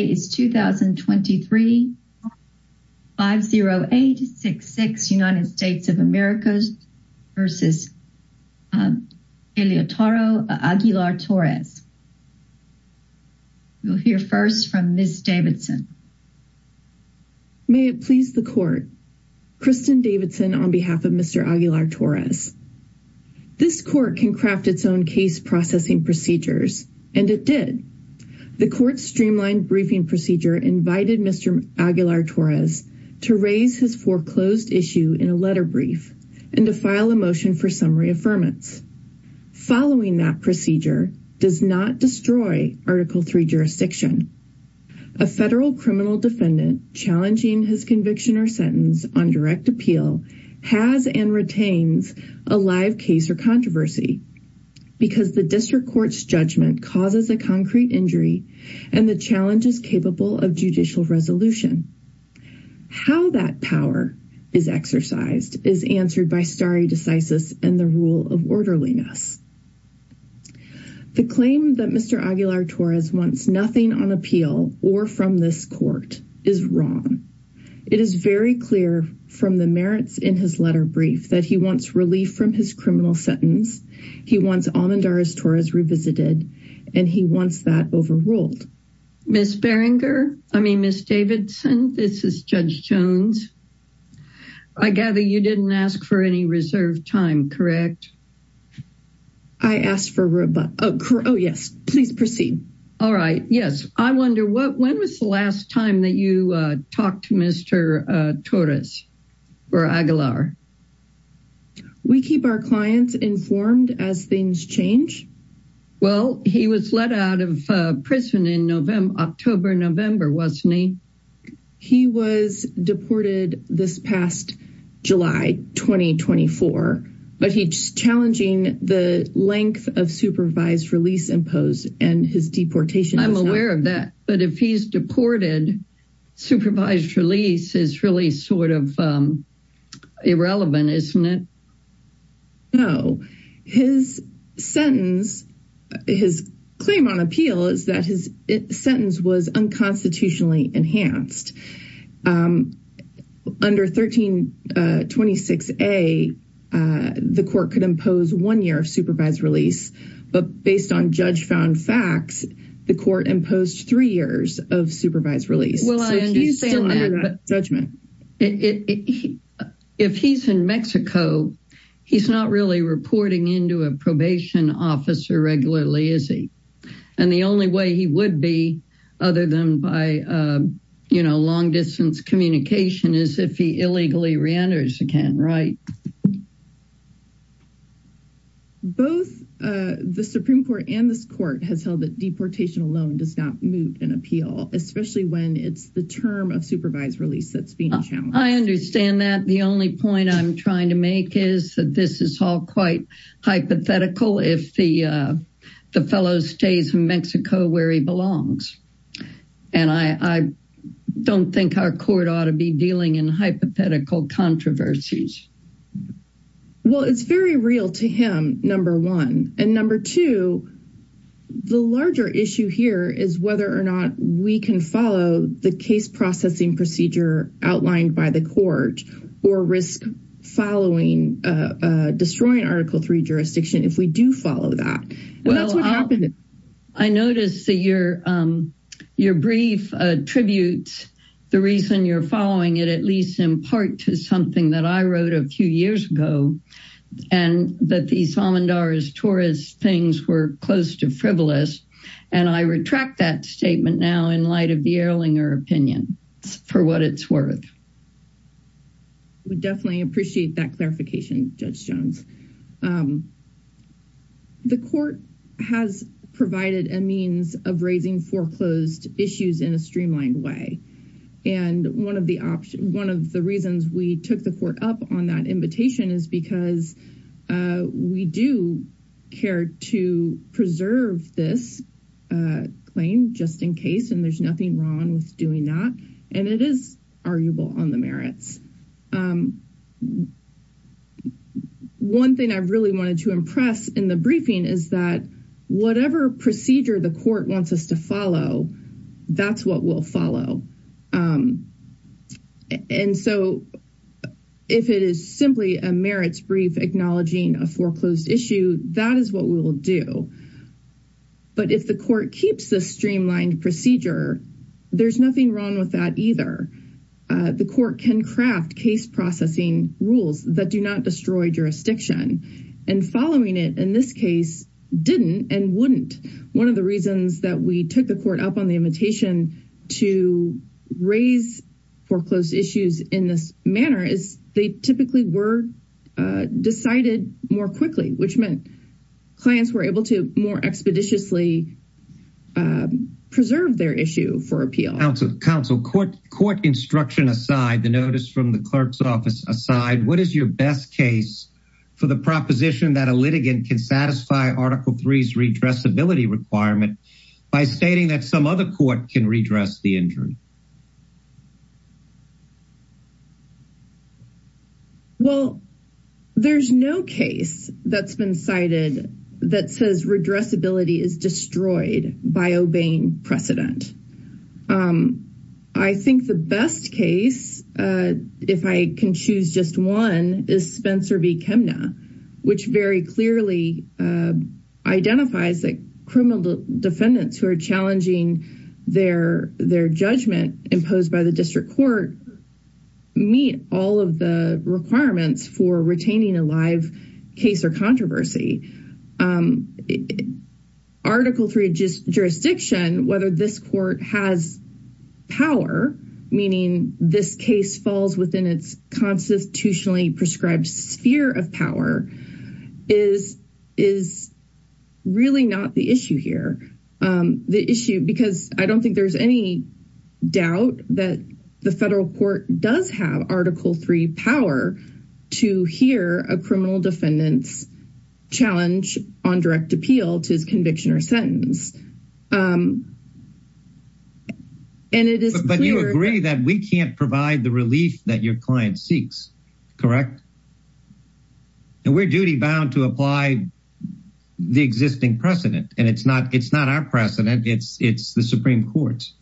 May it please the court. Kristen Davidson on behalf of Mr. Aguilar-Torres. This court can craft its own case processing procedures, and it did. The court's streamlined briefing procedure invited Mr. Aguilar-Torres to raise his foreclosed issue in a letter brief and to file a motion for summary affirmance. Following that procedure does not destroy Article III jurisdiction. A federal criminal defendant challenging his conviction or sentence on direct appeal has and retains a live case or controversy because the district court's judgment causes a concrete injury and the challenge is capable of judicial resolution. How that power is exercised is answered by stare decisis and the rule of orderliness. The claim that Mr. Aguilar-Torres wants nothing on appeal or from this court is wrong. It is very clear from the merits in his letter brief that he wants relief from his criminal sentence. He wants Almendares-Torres revisited, and he wants that overruled. Ms. Berenger, I mean, Ms. Davidson, this is Judge Jones. I gather you didn't ask for any reserved time, correct? I asked for... Oh, yes. Please proceed. All right. Yes. I wonder, when was the last time that you talked to Mr. Torres or Aguilar? We keep our clients informed as things change. Well, he was let out of prison in October, November, wasn't he? He was deported this past July 2024, but he's challenging the length of supervised release imposed and his deportation... I'm aware of that, but if he's deported, supervised release is really sort of irrelevant, isn't it? No. His sentence, his claim on appeal is that his sentence was unconstitutionally enhanced. Under 1326A, the court could impose one year of supervised release, but based on judge-found facts, the court imposed three years of supervised release. Well, I understand that, but if he's in Mexico, he's not really reporting into a probation officer regularly, is he? And the only way he would be, other than by long-distance communication, is if he illegally re-enters again, right? Both the Supreme Court and this court have held that deportation alone does not move an appeal, especially when it's the term of supervised release that's being challenged. I understand that. The only point I'm trying to make is that this is all quite hypothetical if the fellow stays in Mexico where he belongs. And I don't think our court ought to be dealing in hypothetical controversies. Well, it's very real to him, number one. And number two, the larger issue here is whether or not we can follow the case-processing procedure outlined by the court or risk following, destroying Article III jurisdiction if we do follow that. Well, I noticed that your brief attributes the reason you're following it, at least in part, to something that I wrote a few years ago, that these Almendares-Torres things were close to frivolous. And I retract that statement now in light of the Erlinger opinion for what it's worth. We definitely appreciate that clarification, Judge Jones. The court has provided a means of raising foreclosed issues in a streamlined way. And one of the reasons we took the court up on that invitation is because we do care to preserve this claim, just in case, and there's nothing wrong with doing that. And it is arguable on the merits. One thing I really wanted to impress in the briefing is that whatever procedure the court wants us to follow, that's what we'll follow. And so if it is simply a merits brief acknowledging a foreclosed issue, that is what we'll do. But if the court keeps the streamlined procedure, there's nothing wrong with that either. The court can craft case processing rules that do not destroy jurisdiction. And following it, in this case, didn't and wouldn't. One of the reasons that we took the court up on the invitation to raise foreclosed issues in this manner is they typically were decided more quickly, which meant clients were able to more expeditiously preserve their issue for appeal. Counsel, court instruction aside, the notice from the clerk's office aside, what is your best case for the proposition that a litigant can satisfy Article III's redressability requirement by stating that some other court can redress the injury? Well, there's no case that's been cited that says redressability is destroyed by obeying precedent. I think the best case, if I can choose just one, is Spencer v. Chemna, which very clearly identifies that criminal defendants who are challenging their judgment imposed by the district court meet all of the requirements for retaining a live case or controversy. Article III jurisdiction, whether this court has power, meaning this case falls within its constitutionally prescribed sphere of power, is really not the issue here. Because I don't think there's any doubt that the federal court does have Article III power to hear a criminal defendant's challenge on direct appeal to conviction or sentence. But you agree that we can't provide the relief that your client seeks, correct? We're duty-bound to apply the existing precedent, and it's not our precedent, it's the Supreme Court's.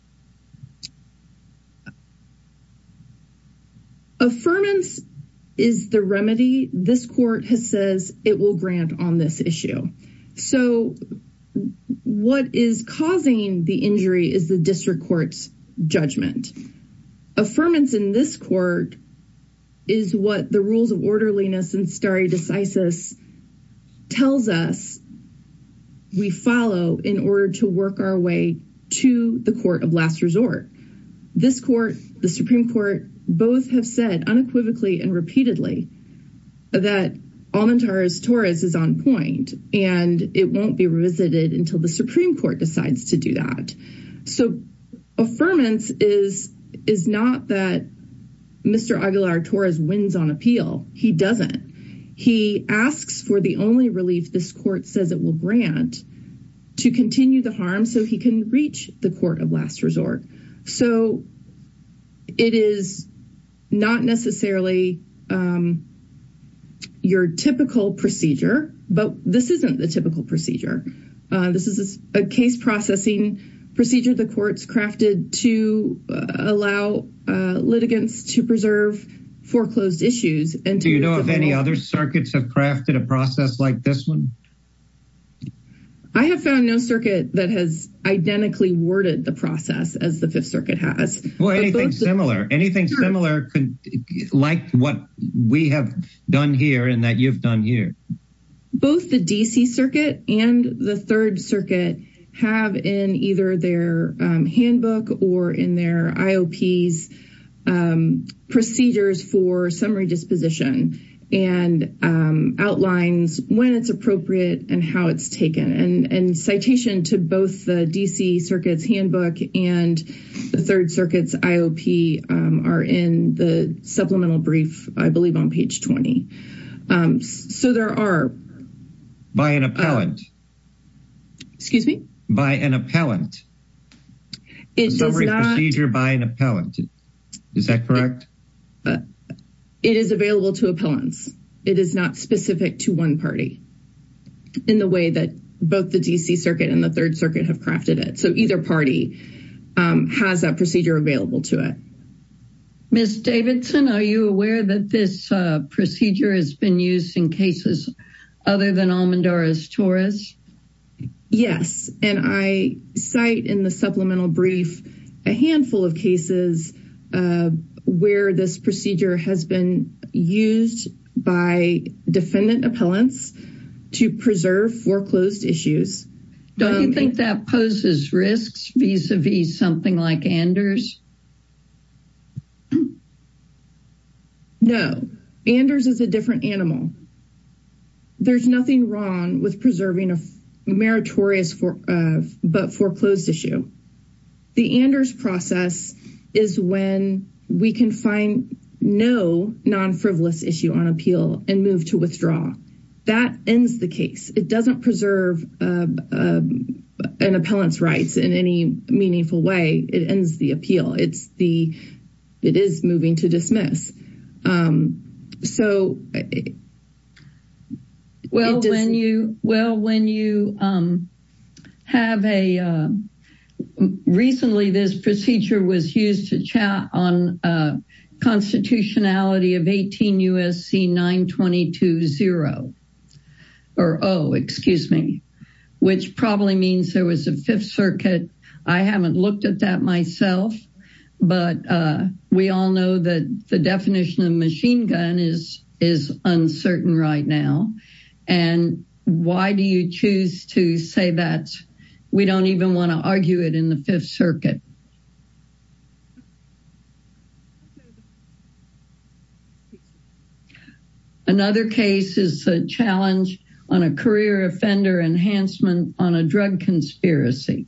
Affirmance is the remedy this court has said it will grant on this issue. So what is causing the injury is the district court's judgment. Affirmance in this court is what the rules of orderliness and stare decisis tells us we follow in order to work our way to the court of last resort. This court, the Supreme Court, both have said unequivocally and repeatedly that Almentares-Torres is on point, and it won't be revisited until the Supreme Court decides to do that. So, affirmance is not that Mr. Aguilar-Torres wins on appeal. He doesn't. He asks for the only relief this court says it will grant to continue the harm so he can reach the court of last resort. So, it is not necessarily your typical procedure, but this isn't a typical procedure. This is a case-processing procedure the court's crafted to allow litigants to preserve foreclosed issues. Do you know if any other circuits have crafted a process like this one? I have found no circuit that has identically worded the process as the Fifth Circuit has. Well, anything similar. Anything similar like what we have done here and that you've done here. Both the D.C. Circuit and the Third Circuit have in either their handbook or in their IOPs procedures for summary disposition and outlines when it's appropriate and how it's taken. And citation to both the D.C. Circuit's handbook and the Third Circuit's IOP are in the supplemental brief, I believe, on page 20. So, there are... By an appellant. Excuse me? By an appellant. It does not... Summary procedure by an appellant. Is that correct? It is available to opponents. It is not specific to one party in the way that both the D.C. Circuit and the Third Circuit have crafted it. So, either party has that procedure available to it. Ms. Davidson, are you aware that this procedure has been used in cases other than Almendara's Torres? Yes. And I cite in the supplemental brief a handful of cases where this procedure has been used by defendant appellants to preserve foreclosed issues. Don't you think that poses risks vis-a-vis something like Anders? No. Anders is a different animal. There's nothing wrong with preserving a meritorious but foreclosed issue. The Anders process is when we can find no non-frivolous issue on appeal and move to withdraw. That ends the case. It doesn't preserve an appellant's rights in any meaningful way. It ends the appeal. It is moving to dismiss. Recently, this procedure was used to chat on constitutionality of 18 U.S.C. 922.0, which probably means there was a Fifth Circuit. I haven't looked at that myself, but we all know that the definition of machine gun is uncertain right now. And why do you choose to say that we don't even want to argue it in the Fifth Circuit? Another case is a challenge on a career offender enhancement on a drug conspiracy.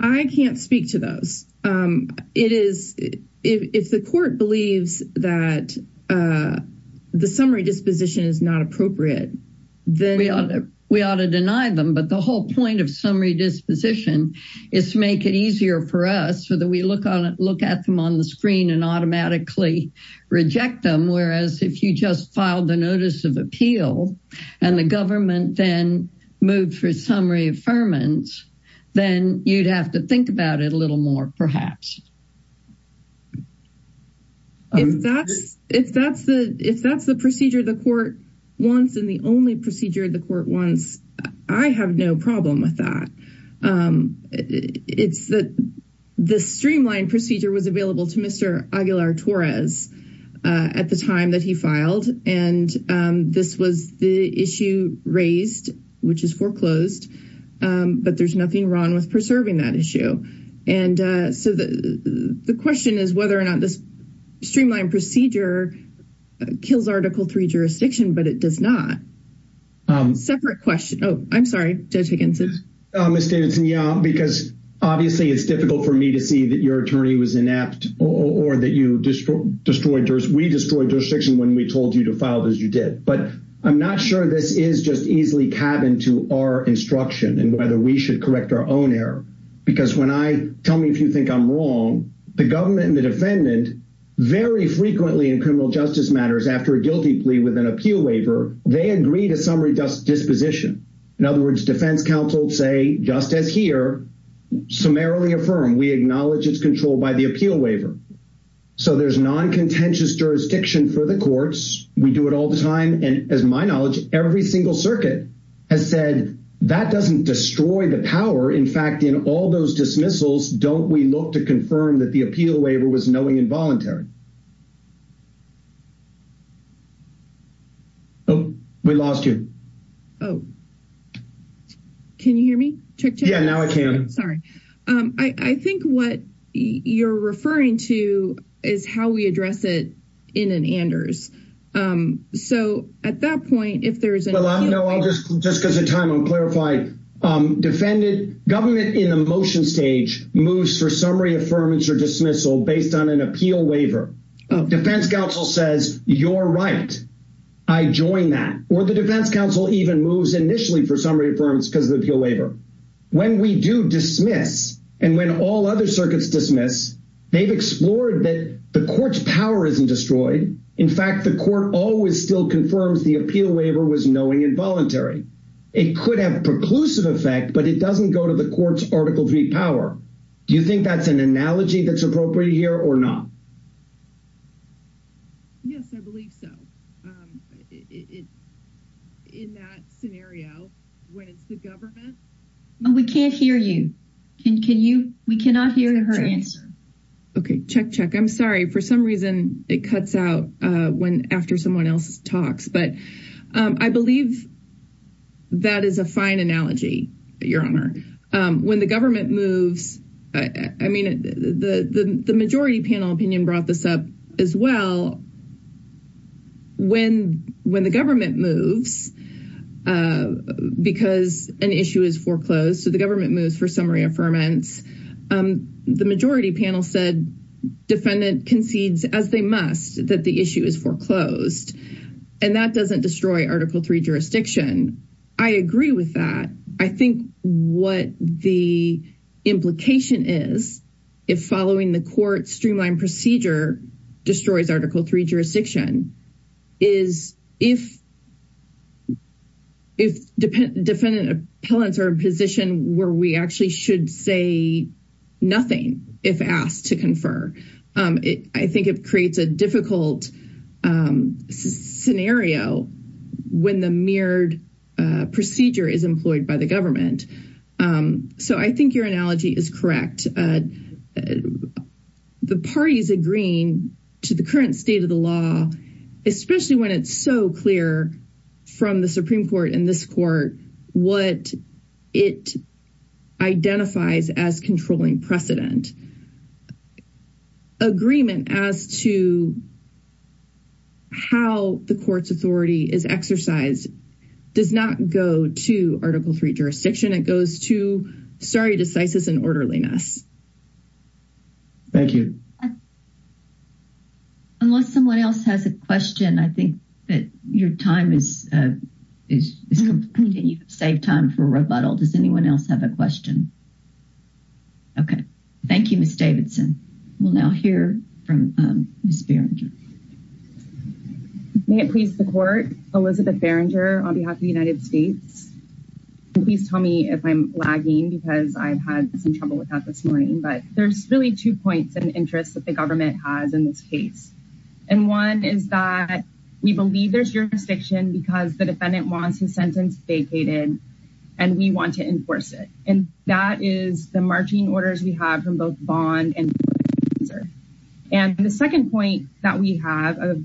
I can't speak to those. If the court believes that the summary disposition is not appropriate, we ought to deny them. But the whole point of summary disposition is to make it easier for us so that we look at them on the screen and automatically reject them. Whereas if you just filed a notice of appeal and the government then moved for summary affirmance, then you'd have to think about it a little more, perhaps. If that's the procedure the court wants and the only procedure the court wants, I have no problem with that. The streamlined procedure was available to Mr. Aguilar-Torres at the time that he filed. And this was the issue raised, which is foreclosed. But there's nothing wrong with preserving that issue. The question is whether or not this streamlined procedure kills Article III jurisdiction, but it does not. Separate question. Oh, I'm sorry. Judge Higginson. Ms. Danton, yeah, because obviously it's difficult for me to see that your attorney was inept or that we destroyed jurisdiction when we told you to file it as you did. But I'm not sure this is just easily cabined to our instruction and whether we should correct our own error. Because when I – tell me if you think I'm wrong. The government and the defendant very frequently in criminal justice matters after a guilty plea with an appeal waiver, they agree to summary disposition. In other words, defense counsel say, just as here, summarily affirm. We acknowledge it's controlled by the appeal waiver. So there's non-contentious jurisdiction for the courts. We do it all the time. And as my knowledge, every single circuit has said that doesn't destroy the power. In fact, in all those dismissals, don't we look to confirm that the appeal waiver was knowing and voluntary? We lost you. Can you hear me? Yeah, now I can. Sorry. I think what you're referring to is how we address it in an Anders. So at that point, if there is – No, I'll just – just because of time, I'm clarifying. Defendant – government in a motion stage moves for summary affirmance or dismissal based on an appeal waiver. Defense counsel says, you're right. I join that. Or the defense counsel even moves initially for summary affirmance because of the appeal waiver. When we do dismiss, and when all other circuits dismiss, they've explored that the court's power isn't destroyed. In fact, the court always still confirms the appeal waiver was knowing and voluntary. It could have a preclusive effect, but it doesn't go to the court's Article III power. Do you think that's an analogy that's appropriate here or not? Yes, I believe so. In that scenario, when the government – We can't hear you. Can you – we cannot hear her answer. Okay. Check, check. I'm sorry. For some reason, it cuts out after someone else talks. But I believe that is a fine analogy, Your Honor. When the government moves – I mean, the majority panel opinion brought this up as well. When the government moves because an issue is foreclosed, so the government moves for summary affirmance, the majority panel said defendant concedes as they must that the issue is foreclosed. And that doesn't destroy Article III jurisdiction. I agree with that. I think what the implication is, if following the court's streamlined procedure destroys Article III jurisdiction, is if defendant appellants are in a position where we actually should say nothing if asked to confer. I think it creates a difficult scenario when the mirrored procedure is employed by the government. So I think your analogy is correct. The parties agreeing to the current state of the law, especially when it's so clear from the Supreme Court and this court, what it identifies as controlling precedent. Agreement as to how the court's authority is exercised does not go to Article III jurisdiction. It goes to stare decisis and orderliness. Thank you. Unless someone else has a question, I think that your time is – you saved time for rebuttal. Does anyone else have a question? Okay. Thank you, Ms. Davidson. We'll now hear from Ms. Berenger. May it please the court? Elizabeth Berenger on behalf of the United States. Please tell me if I'm lagging because I've had some trouble with that this morning. But there's really two points of interest that the government has in this case. And one is that we believe there's jurisdiction because the defendant wants his sentence vacated and we want to enforce it. And that is the marching orders we have from both Vaughn and Berenger. And the second point that we have of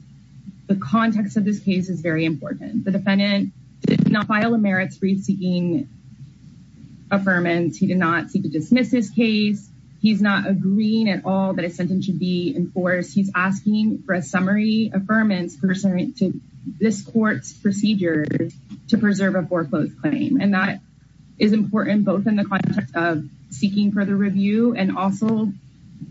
the context of this case is very important. The defendant did not file a merits-free speaking affirmance. He did not seek to dismiss his case. He's not agreeing at all that his sentence should be enforced. He's asking for a summary affirmance to this court's procedure to preserve a foreclosed claim. And that is important both in the context of seeking further review and also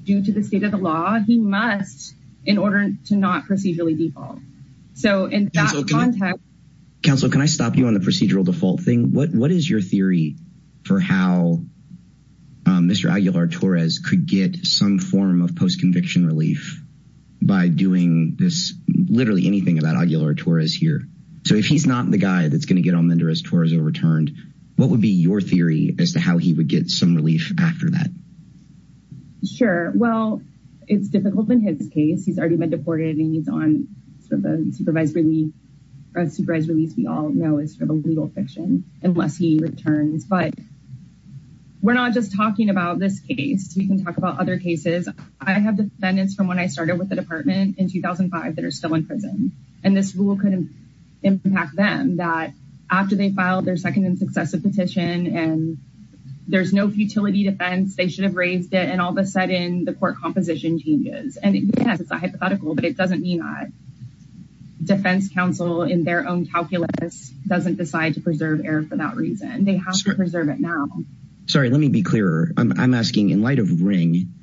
due to the state of the law. He must in order to not procedurally default. So in that context... Counsel, can I stop you on the procedural default thing? What is your theory for how Mr. Aguilar-Torres could get some form of post-conviction relief by doing this, literally anything about Aguilar-Torres here? So if he's not the guy that's going to get on the under arrest for his return, what would be your theory as to how he would get some relief after that? Sure. Well, it's difficult in his case. He's already been deported and he's on for the supervised release. As you all know, it's sort of legal fiction unless he returns. But we're not just talking about this case. We can talk about other cases. I have defendants from when I started with the department in 2005 that are still in prison. And this rule could impact them that after they filed their second and successive petition and there's no futility defense, they should have raised it. And all of a sudden the court composition changes. And yes, it's a hypothetical, but it doesn't mean that defense counsel in their own calculus doesn't decide to preserve error for that reason. They have to preserve it now. Sorry, let me be clearer. I'm asking in light of ring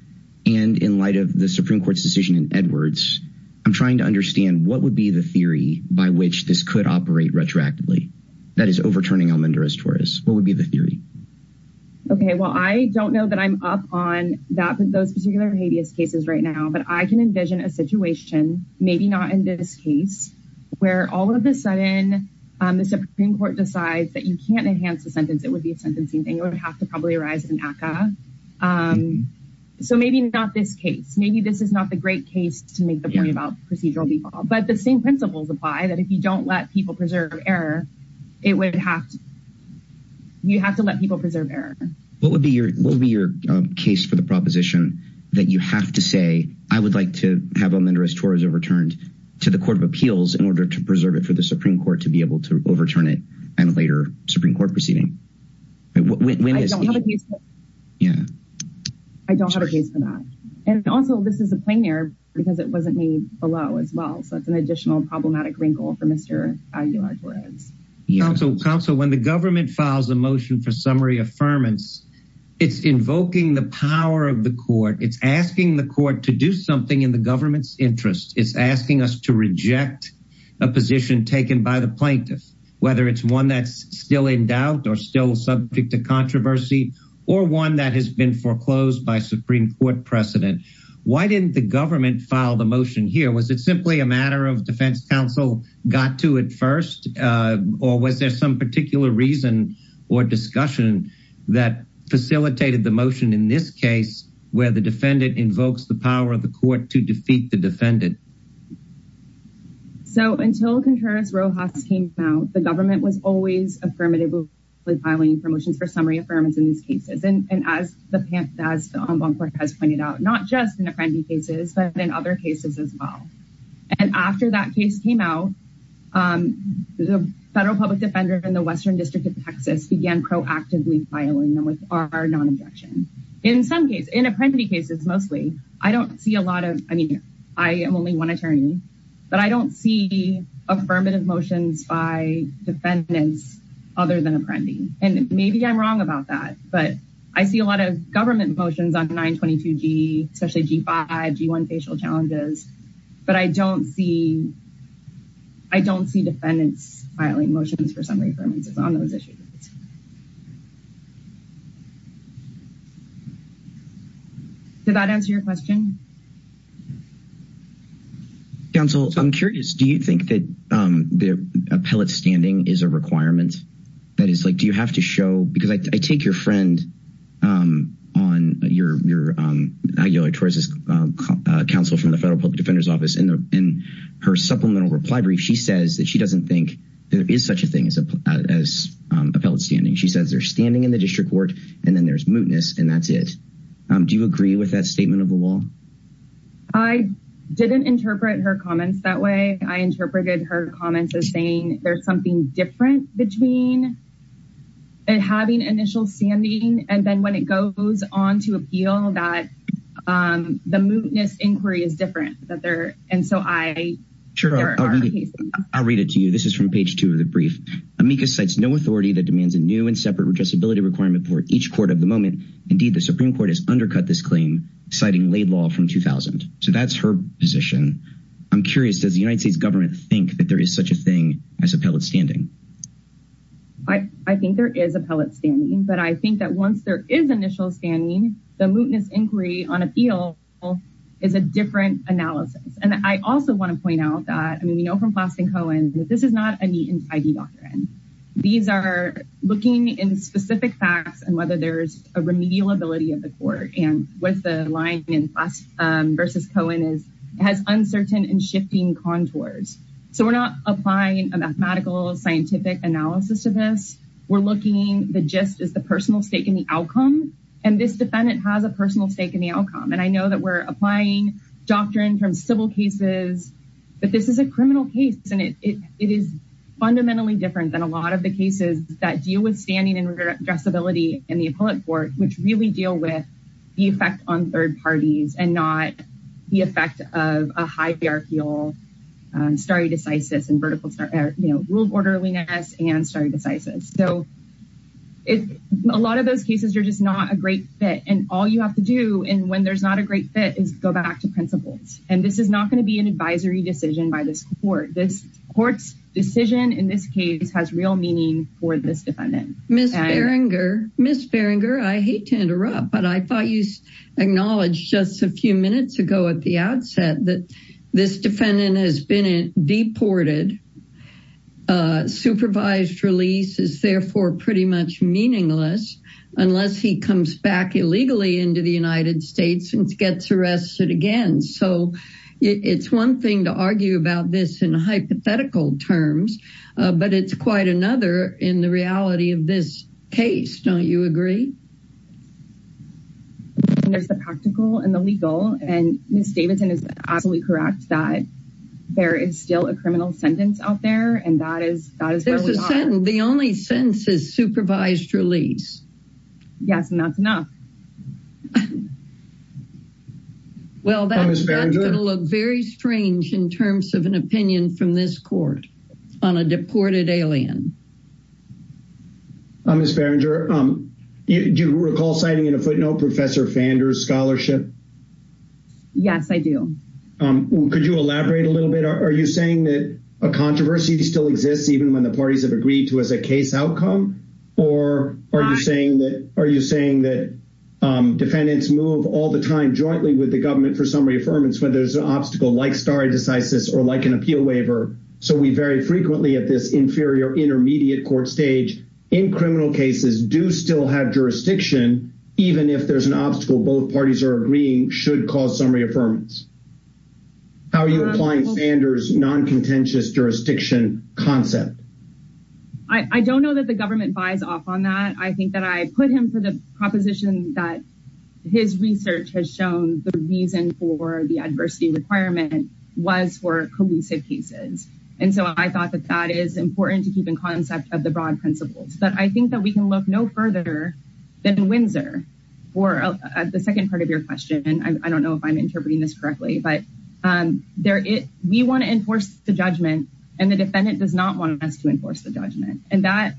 and in light of the Supreme Court's decision in Edwards. I'm trying to understand what would be the theory by which this could operate retroactively. That is overturning on interest for us. What would be the theory? OK, well, I don't know that I'm up on that. But those particular cases right now that I can envision a situation, maybe not in this case, where all of a sudden the Supreme Court decides that you can't enhance the sentence. It would be a sentencing thing. It would have to probably arise in NACA. So maybe not this case. Maybe this is not the great case to make the point about procedural default. But the same principles apply that if you don't let people preserve error, it would have. You have to let people preserve error. What would be your what would be your case for the proposition that you have to say, I would like to have a mentor as far as overturned to the Court of Appeals in order to preserve it for the Supreme Court to be able to overturn it and later Supreme Court proceeding? Yeah, I don't have a case for that. And also, this is a plain air because it wasn't me below as well. That's an additional problematic wrinkle for Mr. Council council when the government files a motion for summary affirmance, it's invoking the power of the court. It's asking the court to do something in the government's interest. It's asking us to reject a position taken by the plaintiffs, whether it's one that's still in doubt or still subject to controversy or one that has been foreclosed by Supreme Court precedent. Why didn't the government file the motion here? Was it simply a matter of defense counsel got to it first or was there some particular reason or discussion that facilitated the motion in this case where the defendant invokes the power of the court to defeat the defendant? So, until Congress came out, the government was always affirmative filing promotion for summary affirmative cases. And as the onboard has pointed out, not just in a friendly cases, but in other cases as well. And after that case came out, the federal public defender in the Western District of Texas began proactively filing them with our non injection. In some cases, in a friendly cases, mostly, I don't see a lot of, I mean, I am only one attorney, but I don't see affirmative motions by defendants, other than a friendly. And maybe I'm wrong about that, but I see a lot of government motions on 922 G, especially G5 G1 facial challenges. But I don't see. I don't see defendants motions for summary on those issues. Did that answer your question? Counsel, I'm sure. Counsel from the federal public defender's office in her supplemental reply brief. She says that she doesn't think there is such a thing as a felon standing. She says they're standing in the district court and then there's mootness and that's it. Do you agree with that statement of the law? I didn't interpret her comments that way. I interpreted her comments as saying there's something different between. And having initial standing and then when it goes on to appeal that the mootness inquiry is different that there. And so I sure I'll read it to you. This is from page 2 of the brief. Amicus sets no authority that demands a new and separate disability requirement for each quarter of the moment. Indeed, the Supreme Court has undercut this claim, citing late law from 2000. So that's her position. I'm curious. Does the United States government think that there is such a thing as appellate standing? I think there is appellate standing, but I think that once there is initial standing, the mootness inquiry on appeal is a different analysis. And I also want to point out that, I mean, you know, from class and Colin, this is not a neat and spiky doctrine. These are looking in specific facts and whether there's a remedial ability of the court. And what's the line versus Cohen is has uncertain and shifting contours. So we're not applying a mathematical scientific analysis of this. We're looking at the just as the personal stake in the outcome. And this defendant has a personal stake in the outcome. And I know that we're applying doctrine from civil cases. But this is a criminal case. And it is fundamentally different than a lot of the cases that deal with standing and addressability and the appellate court, which really deal with the effect on third parties and not the effect of a high fair feel. Sorry to say this in vertical rule of orderliness. And I'm sorry to say this. So it's a lot of those cases. You're just not a great fit. And all you have to do. And when there's not a great fit, go back to principle. And this is not going to be an advisory decision by this court. This court's decision in this case has real meaning for this defendant. Ms. Ferenger, I hate to interrupt, but I thought you acknowledged just a few minutes ago at the outset that this defendant has been deported. Supervised release is therefore pretty much meaningless unless he comes back illegally into the United States and gets arrested again. So it's one thing to argue about this in hypothetical terms, but it's quite another in the reality of this case. Don't you agree? There's the practical and the legal. And Ms. Davidson is absolutely correct that there is still a criminal sentence out there. And that is the only sentence is supervised release. Yes, and that's enough. Well, that's a little very strange in terms of an opinion from this court on a deported alien. Ms. Ferenger, do you recall signing in a footnote Professor Fander's scholarship? Yes, I do. Could you elaborate a little bit? Are you saying that a controversy still exists even when the parties have agreed to as a case outcome? Or are you saying that defendants move all the time jointly with the government for summary affirmance when there's an obstacle like stare decisis or like an appeal waiver? So we very frequently at this inferior intermediate court stage in criminal cases do still have jurisdiction even if there's an obstacle both parties are agreeing should cause summary affirmance. How are you applying Fander's non-contentious jurisdiction concept? I don't know that the government buys off on that. I think that I put him for the proposition that his research has shown the reason for the adversity requirement was for collusive cases. And so I thought that that is important to keep in concept of the broad principles. But I think that we can look no further than Windsor for the second part of your question. And I don't know if I'm interpreting this correctly. We want to enforce the judgment and the defendant does not want us to enforce the judgment. And that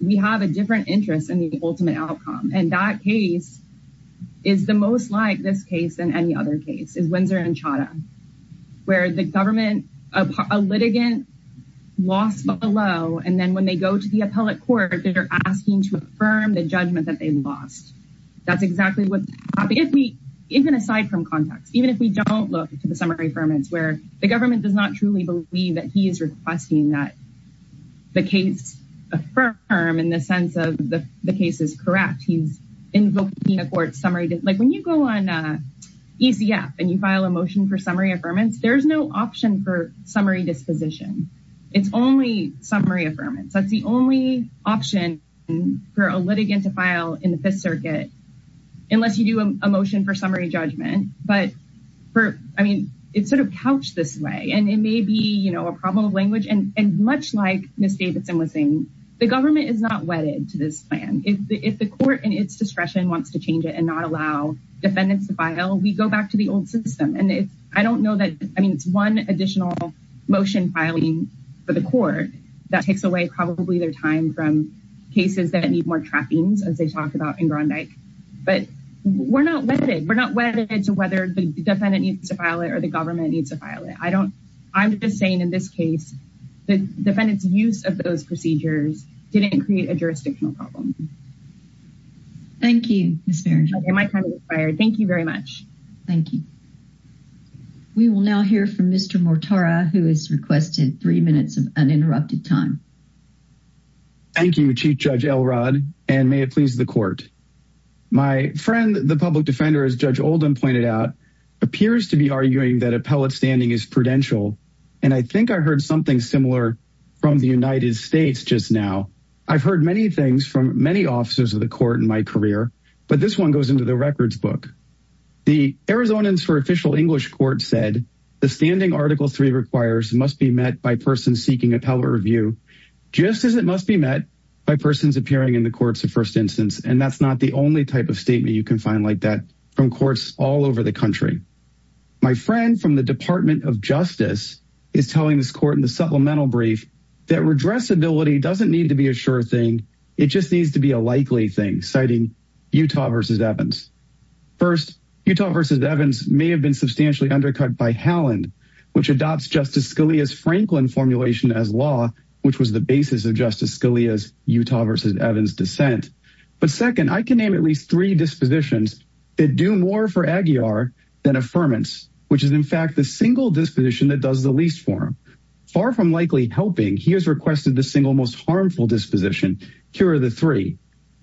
we have a different interest in the ultimate outcome. And that case is the most like this case than any other case is Windsor and Chadha. Where the government a litigant lost below and then when they go to the appellate court they're asking to affirm the judgment that they lost. Even aside from context. Even if we don't look to the summary affirmance where the government does not truly believe that he is requesting that the case affirm in the sense that the case is correct. He's invoking a court summary. Like when you go on ECF and you file a motion for summary affirmance there's no option for summary disposition. It's only summary affirmance. That's the only option for a litigant to file in the Fifth Circuit. Unless you do a motion for summary judgment. But it's sort of couched this way. And it may be a problem of language. And much like Ms. Davis and Ms. Sainz. The government is not wedded to this plan. If the court and its discretion wants to change it and not allow defendants to file we go back to the old system. And I don't know that one additional motion filing for the court that takes away probably their time from cases that need more tracking as they talk about in Grondike. But we're not wedded. We're not wedded to whether the defendant needs to file it or the government needs to file it. I'm just saying in this case the defendant's use of those procedures didn't create a jurisdictional problem. Thank you. Thank you very much. Thank you. We will now hear from Mr. Mortara who has requested three minutes of uninterrupted time. Thank you Chief Judge Elrod. And may it please the court. My friend the public defender as Judge Oldham pointed out appears to be arguing that appellate standing is prudential. And I think I heard something similar from the United States just now. I've heard many things from many officers of the court in my career. But this one goes into the records book. The Arizonans for Official English Court said the standing Article 3 requires must be met by persons seeking appellate review. Just as it must be met by persons appearing in the courts of first instance. And that's not the only type of statement you can find like that from courts all over the country. My friend from the Department of Justice is telling this court in the supplemental brief that redressability doesn't need to be a sure thing. It just needs to be a likely thing citing Utah v. Evans. First Utah v. Evans may have been substantially undercut by Halland which adopts Justice Scalia's Franklin formulation as law. Which was the basis of Justice Scalia's Utah v. Evans dissent. But second I can name at least three dispositions that do more for Aguiar than affirmance. Which is in fact the single disposition that does the least for him. Far from likely helping he has requested the single most harmful disposition. Here are the three.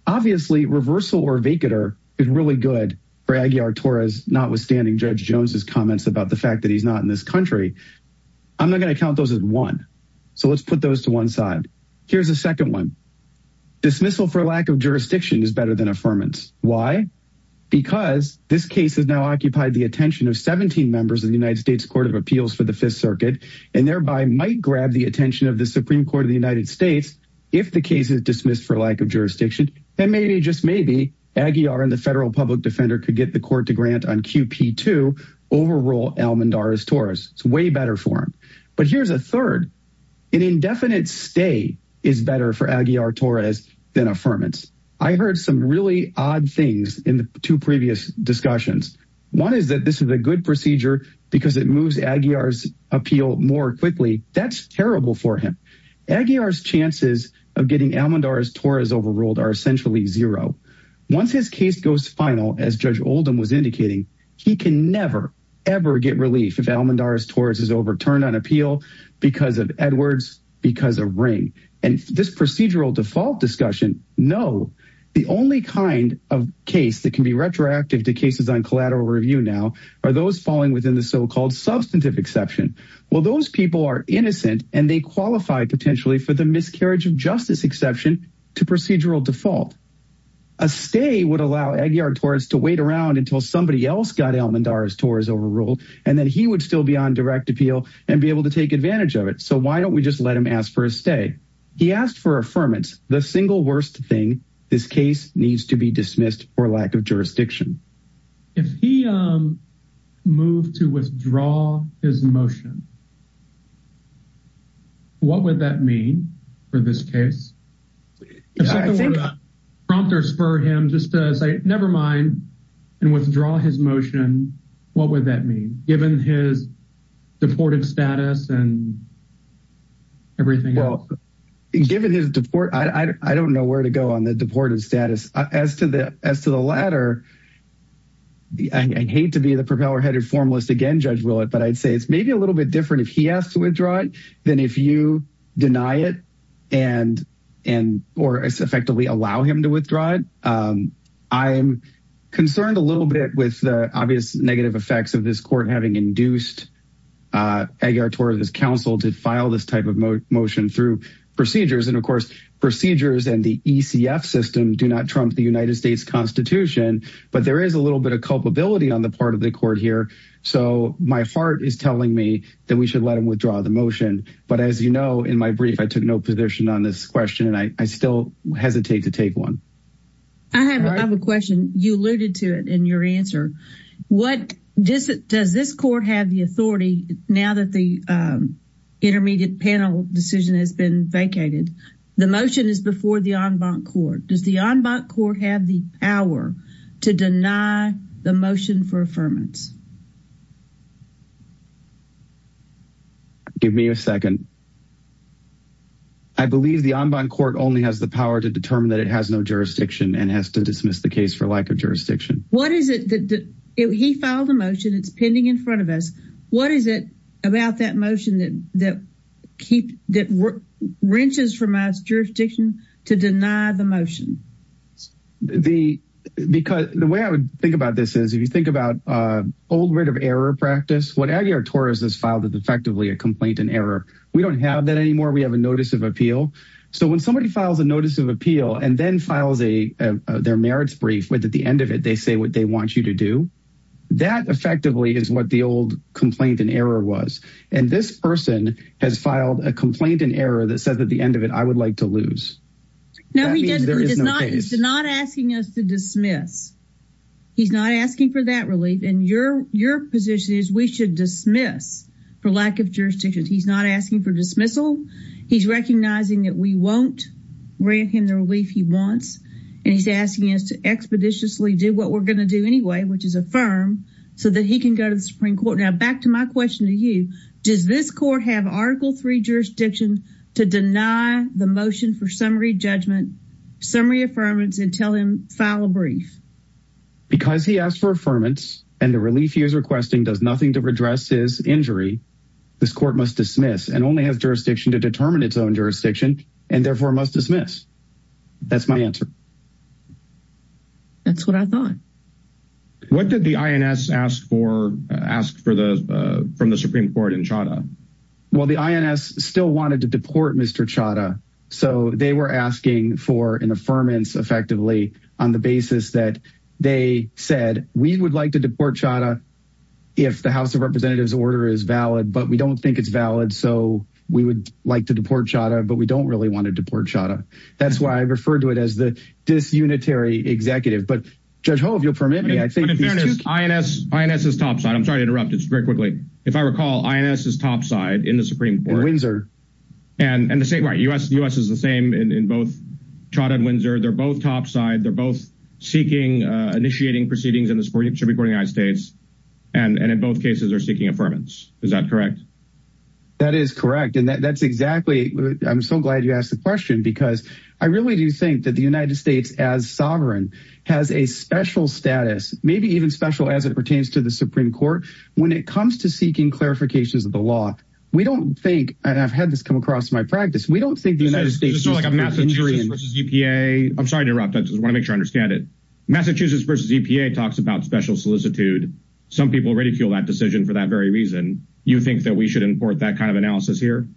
Obviously reversal or vacater is really good for Aguiar Torres notwithstanding Judge Jones' comments about the fact that he's not in this country. I'm not going to count those as one. So let's put those to one side. Here's a second one. Dismissal for lack of jurisdiction is better than affirmance. Why? Because this case has now occupied the attention of 17 members of the United States Court of Appeals for the 5th Circuit. And thereby might grab the attention of the Supreme Court of the United States if the case is dismissed for lack of jurisdiction. And maybe just maybe Aguiar and the federal public defender could get the court to grant on QP2 overrule Almendarez Torres. It's way better for him. But here's a third. An indefinite stay is better for Aguiar Torres than affirmance. I heard some really odd things in the two previous discussions. One is that this is a good procedure because it moves Aguiar's appeal more quickly. That's terrible for him. Aguiar's chances of getting Almendarez Torres overruled are essentially zero. Once his case goes final, as Judge Oldham was indicating, he can never, ever get relief if Almendarez Torres is overturned on appeal because of Edwards, because of Ring. And this procedural default discussion, no. The only kind of case that can be retroactive to cases on collateral review now are those falling within the so-called substantive exception. Well, those people are innocent and they qualify potentially for the miscarriage of justice exception to procedural default. A stay would allow Aguiar Torres to wait around until somebody else got Almendarez Torres overruled. And then he would still be on direct appeal and be able to take advantage of it. So why don't we just let him ask for a stay? He asked for affirmance. The single worst thing, this case needs to be dismissed for lack of jurisdiction. If he moved to withdraw his motion, what would that mean for this case? If someone were to prompt or spur him just to say, never mind, and withdraw his motion, what would that mean? Given his deported status and everything else. Well, given his deport, I don't know where to go on the deported status. As to the latter, I hate to be the propeller-headed formalist again, Judge Willett, but I'd say it's maybe a little bit different if he has to withdraw it than if you deny it or effectively allow him to withdraw it. I'm concerned a little bit with the obvious negative effects of this court having induced Aguiar Torres' counsel to file this type of motion through procedures. And of course, procedures and the ECF system do not trump the United States Constitution. But there is a little bit of culpability on the part of the court here. So my heart is telling me that we should let him withdraw the motion. But as you know, in my brief, I took no position on this question. And I still hesitate to take one. I have another question. You alluded to it in your answer. Does this court have the authority, now that the intermediate panel decision has been vacated, the motion is before the en banc court? Does the en banc court have the power to deny the motion for affirmance? Give me a second. I believe the en banc court only has the power to determine that it has no jurisdiction and has to dismiss the case for lack of jurisdiction. He filed a motion. It's pending in front of us. What is it about that motion that wrenches from our jurisdiction to deny the motion? The way I would think about this is, if you think about old writ of error practice, what Aguiar-Torres has filed is effectively a complaint in error. We don't have that anymore. We have a notice of appeal. So when somebody files a notice of appeal and then files their merits brief, but at the end of it they say what they want you to do, that effectively is what the old complaint in error was. And this person has filed a complaint in error that says at the end of it, I would like to lose. No, he's not asking us to dismiss. He's not asking for that relief. And your position is we should dismiss for lack of jurisdiction. He's not asking for dismissal. He's recognizing that we won't grant him the relief he wants. And he's asking us to expeditiously do what we're going to do anyway, which is affirm, so that he can go to the Supreme Court. Now back to my question to you. Does this court have Article III jurisdiction to deny the motion for summary judgment, summary affirmance, and tell him to file a brief? Because he asked for affirmance and the relief he is requesting does nothing to redress his injury, this court must dismiss and only have jurisdiction to determine its own jurisdiction and therefore must dismiss. That's my answer. That's what I thought. What did the INS ask for from the Supreme Court in Chadha? Well, the INS still wanted to deport Mr. Chadha. So they were asking for an affirmance effectively on the basis that they said we would like to deport Chadha if the House of Representatives order is valid, but we don't think it's valid. So we would like to deport Chadha, but we don't really want to deport Chadha. That's why I referred to it as the disunitary executive. INS is topside. I'm sorry to interrupt. It's very quickly. If I recall, INS is topside in the Supreme Court. In Windsor. Right. U.S. is the same in both Chadha and Windsor. They're both topside. They're both seeking, initiating proceedings in the Supreme Court of the United States. And in both cases, they're seeking affirmance. Is that correct? That is correct. I'm so glad you asked the question, because I really do think that the United States, as sovereign, has a special status, maybe even special as it pertains to the Supreme Court, when it comes to seeking clarifications of the law. We don't think, and I've had this come across in my practice, we don't think the United States is like a Massachusetts versus EPA. I'm sorry to interrupt. I just wanted to make sure I understand it. Massachusetts versus EPA talks about special solicitude. Some people already feel that decision for that very reason. You think that we should import that kind of analysis here?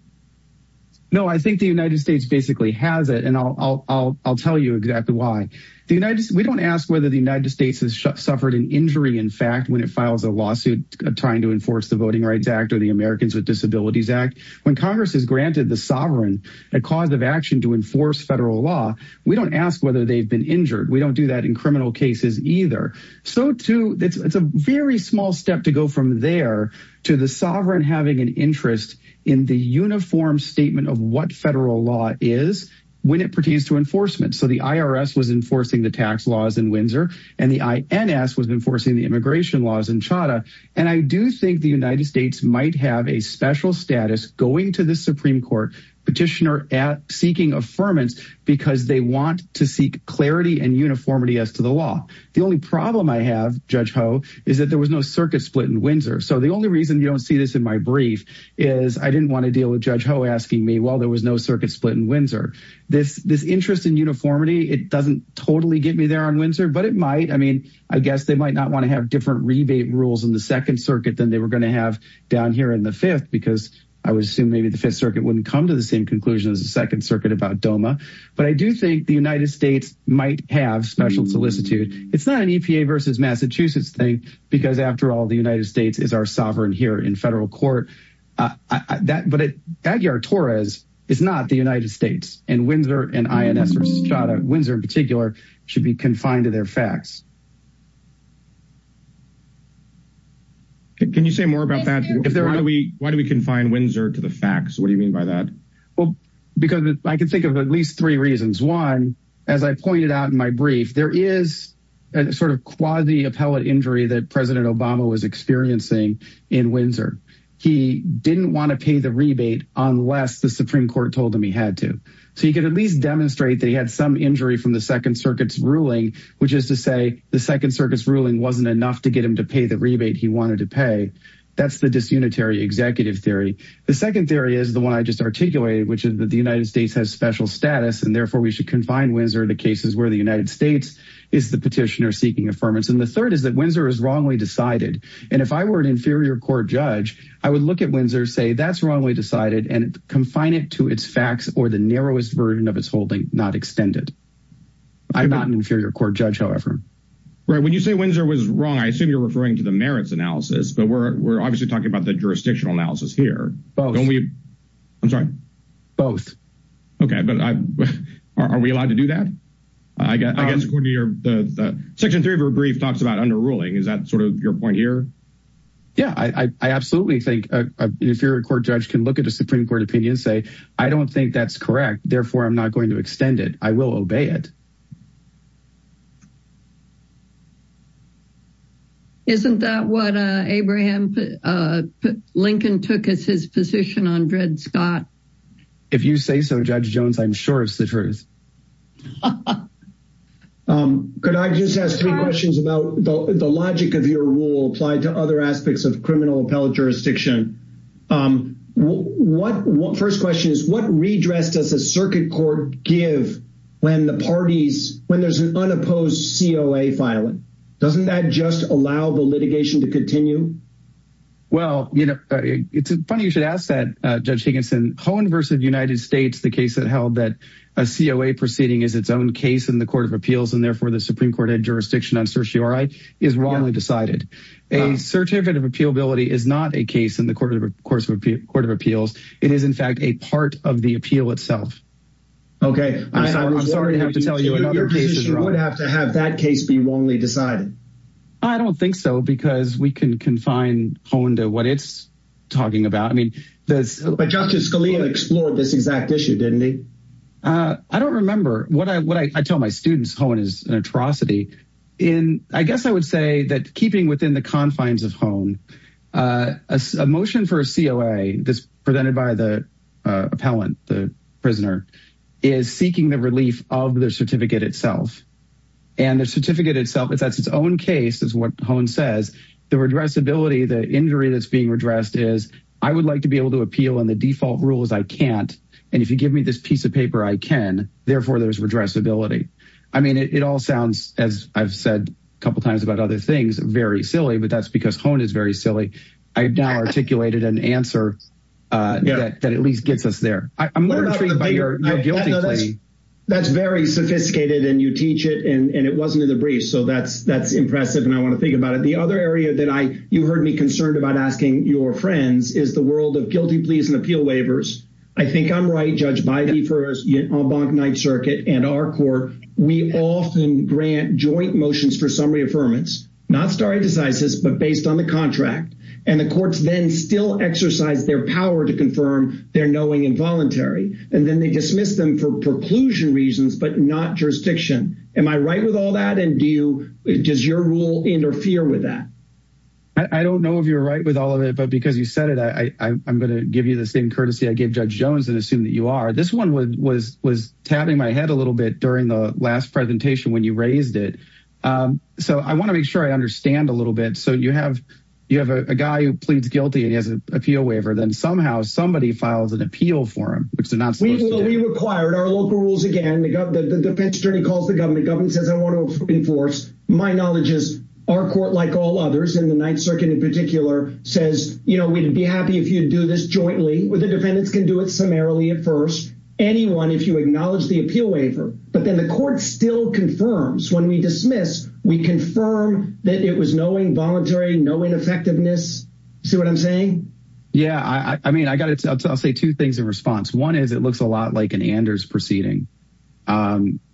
No, I think the United States basically has it, and I'll tell you exactly why. We don't ask whether the United States has suffered an injury in fact when it files a lawsuit trying to enforce the Voting Rights Act or the Americans with Disabilities Act. When Congress has granted the sovereign a cause of action to enforce federal law, we don't ask whether they've been injured. We don't do that in criminal cases either. It's a very small step to go from there to the sovereign having an interest in the uniform statement of what federal law is when it pertains to enforcement. So the IRS was enforcing the tax laws in Windsor, and the INS was enforcing the immigration laws in Chadha. And I do think the United States might have a special status going to the Supreme Court petitioner seeking affirmance because they want to seek clarity and uniformity as to the law. The only problem I have, Judge Ho, is that there was no circuit split in Windsor. So the only reason you don't see this in my brief is I didn't want to deal with Judge Ho asking me, well, there was no circuit split in Windsor. This interest in uniformity, it doesn't totally get me there on Windsor, but it might. I mean, I guess they might not want to have different rebate rules in the Second Circuit than they were going to have down here in the Fifth, because I would assume maybe the Fifth Circuit wouldn't come to the same conclusion as the Second Circuit about DOMA. But I do think the United States might have special solicitude. It's not an EPA versus Massachusetts thing because, after all, the United States is our sovereign here in federal court. But Aguiar-Torres is not the United States, and Windsor and INS or Chadha, Windsor in particular, should be confined to their facts. Can you say more about that? Why do we confine Windsor to the facts? What do you mean by that? Well, because I can think of at least three reasons. One, as I pointed out in my brief, there is a sort of quasi-appellate injury that President Obama was experiencing in Windsor. He didn't want to pay the rebate unless the Supreme Court told him he had to. So he could at least demonstrate that he had some injury from the Second Circuit's ruling, which is to say the Second Circuit's ruling wasn't enough to get him to pay the rebate he wanted to pay. That's the disunitary executive theory. The second theory is the one I just articulated, which is that the United States has special status, and therefore we should confine Windsor to cases where the United States is the petitioner seeking affirmance. And the third is that Windsor is wrongly decided. And if I were an inferior court judge, I would look at Windsor, say that's wrongly decided, and confine it to its facts or the narrowest version of its holding, not extend it. I'm not an inferior court judge, however. Right. When you say Windsor was wrong, I assume you're referring to the merits analysis. But we're obviously talking about the jurisdictional analysis here. Both. I'm sorry. Okay, but are we allowed to do that? I guess according to your section three of your brief talks about underruling. Is that sort of your point here? Yeah, I absolutely think an inferior court judge can look at a Supreme Court opinion and say, I don't think that's correct, therefore I'm not going to extend it. I will obey it. Isn't that what Abraham Lincoln took as his position on Dred Scott? If you say so, Judge Jones, I'm sure it's the truth. Could I just ask two questions about the logic of your rule applied to other aspects of criminal appellate jurisdiction? First question is, what redress does the circuit court give when there's an unopposed COA filing? Doesn't that just allow the litigation to continue? Well, it's funny you should ask that, Judge Dickinson. Cohen v. United States, the case that held that a COA proceeding is its own case in the court of appeals, and therefore the Supreme Court had jurisdiction on certiorari, is wrongly decided. A certificate of appealability is not a case in the court of appeals. It is, in fact, a part of the appeal itself. Okay, I was wondering if you would have to have that case be wrongly decided. I don't think so, because we can confine Cohen to what it's talking about. But Justice Scalia explored this exact issue, didn't he? I don't remember. I tell my students Cohen is an atrocity. I guess I would say that keeping within the confines of Cohen, a motion for a COA that's presented by the appellant, the prisoner, is seeking the relief of the certificate itself. And the certificate itself, if that's its own case, is what Cohen says, the redressability, the injury that's being redressed is, I would like to be able to appeal on the default rules, I can't. And if you give me this piece of paper, I can. Therefore, there's redressability. I mean, it all sounds, as I've said a couple times about other things, very silly. But that's because Cohen is very silly. I've now articulated an answer that at least gets us there. I'm learning from you. That's very sophisticated, and you teach it, and it wasn't in the briefs. So that's impressive, and I want to think about it. The other area that you heard me concerned about asking your friends is the world of guilty pleas and appeal waivers. I think I'm right, Judge Bidey, for the Montgomery Circuit and our court, we often grant joint motions for summary affirmance, not starting with the scientist, but based on the contract. And the courts then still exercise their power to confirm their knowing and voluntary. And then they dismiss them for preclusion reasons, but not jurisdiction. Am I right with all that, and does your rule interfere with that? I don't know if you're right with all of it, but because you said it, I'm going to give you the same courtesy I gave Judge Jones and assume that you are. This one was tapping my head a little bit during the last presentation when you raised it. So I want to make sure I understand a little bit. So you have a guy who pleads guilty and he has an appeal waiver. Then somehow somebody files an appeal for him. We will be required. Our local rules, again, the defense attorney calls the government. The government says, I want to enforce. My knowledge is our court, like all others in the Ninth Circuit in particular, says, you know, we'd be happy if you do this jointly with the defendants can do it primarily at first. Anyone, if you acknowledge the appeal waiver, but then the court still confirms. When we dismiss, we confirm that it was knowing voluntary, knowing effectiveness. See what I'm saying? Yeah. I mean, I got it. I'll say two things in response. One is it looks a lot like an Anders proceeding,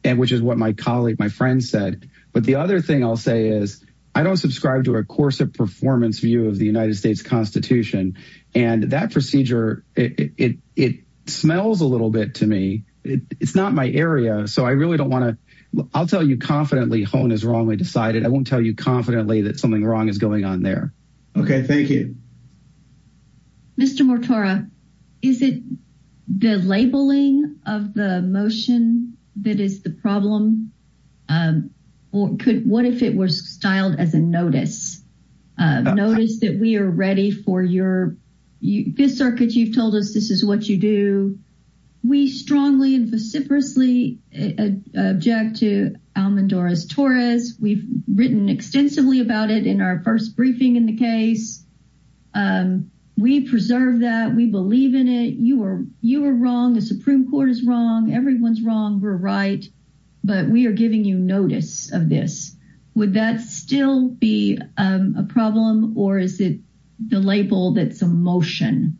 which is what my colleague, my friend said. But the other thing I'll say is I don't subscribe to a course of performance view of the United States Constitution. And that procedure, it smells a little bit to me. It's not my area. So I really don't want to. I'll tell you confidently. Hone is wrongly decided. I won't tell you confidently that something wrong is going on there. Okay. Thank you. Mr. What if it was styled as a notice? Notice that we are ready for your circuit. You've told us this is what you do. We strongly and vociferously object to Almendora Torres. We've written extensively about it in our first briefing in the case. We preserve that. We believe in it. You were wrong. The Supreme Court is wrong. Everyone's wrong. We're right. But we are giving you notice of this. Would that still be a problem? Or is it the label that's a motion?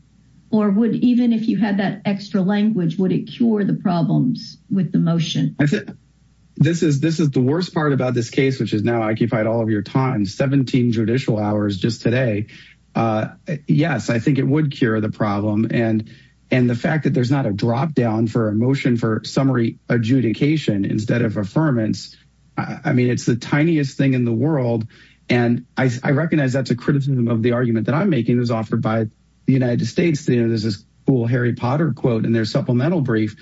Or would even if you had that extra language, would it cure the problems with the motion? This is the worst part about this case, which is now occupied all of your time. 17 judicial hours just today. Yes, I think it would cure the problem. And the fact that there's not a drop down for a motion for summary adjudication instead of affirmance. I mean, it's the tiniest thing in the world. And I recognize that's a criticism of the argument that I'm making. It was offered by the United States. There's this cool Harry Potter quote in their supplemental brief.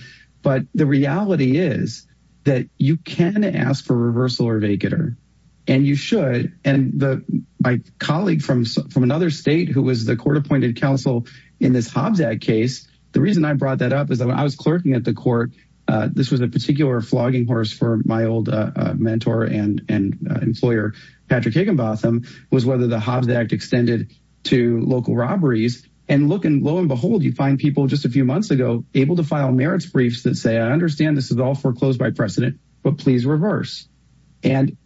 But the reality is that you can ask for reversal or vacater. And you should. My colleague from another state who was the court-appointed counsel in this Hobbs Act case, the reason I brought that up is I was clerking at the court. This was a particular flogging horse for my old mentor and employer, Patrick Higginbotham, was whether the Hobbs Act extended to local robberies. And look, and lo and behold, you find people just a few months ago able to file merits briefs that say, I understand this is all foreclosed by precedent, but please reverse. And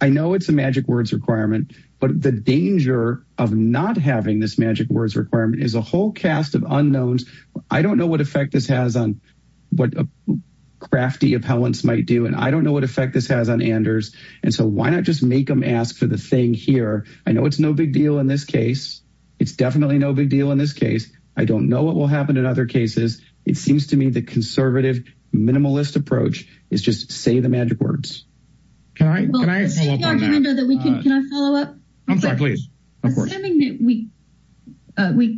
I know it's a magic words requirement. But the danger of not having this magic words requirement is a whole cast of unknowns. I don't know what effect this has on what crafty appellants might do. And I don't know what effect this has on Anders. And so why not just make them ask for the thing here? I know it's no big deal in this case. It's definitely no big deal in this case. I don't know what will happen in other cases. It seems to me the conservative minimalist approach is just say the magic words. Can I follow up? I'm sorry, please. We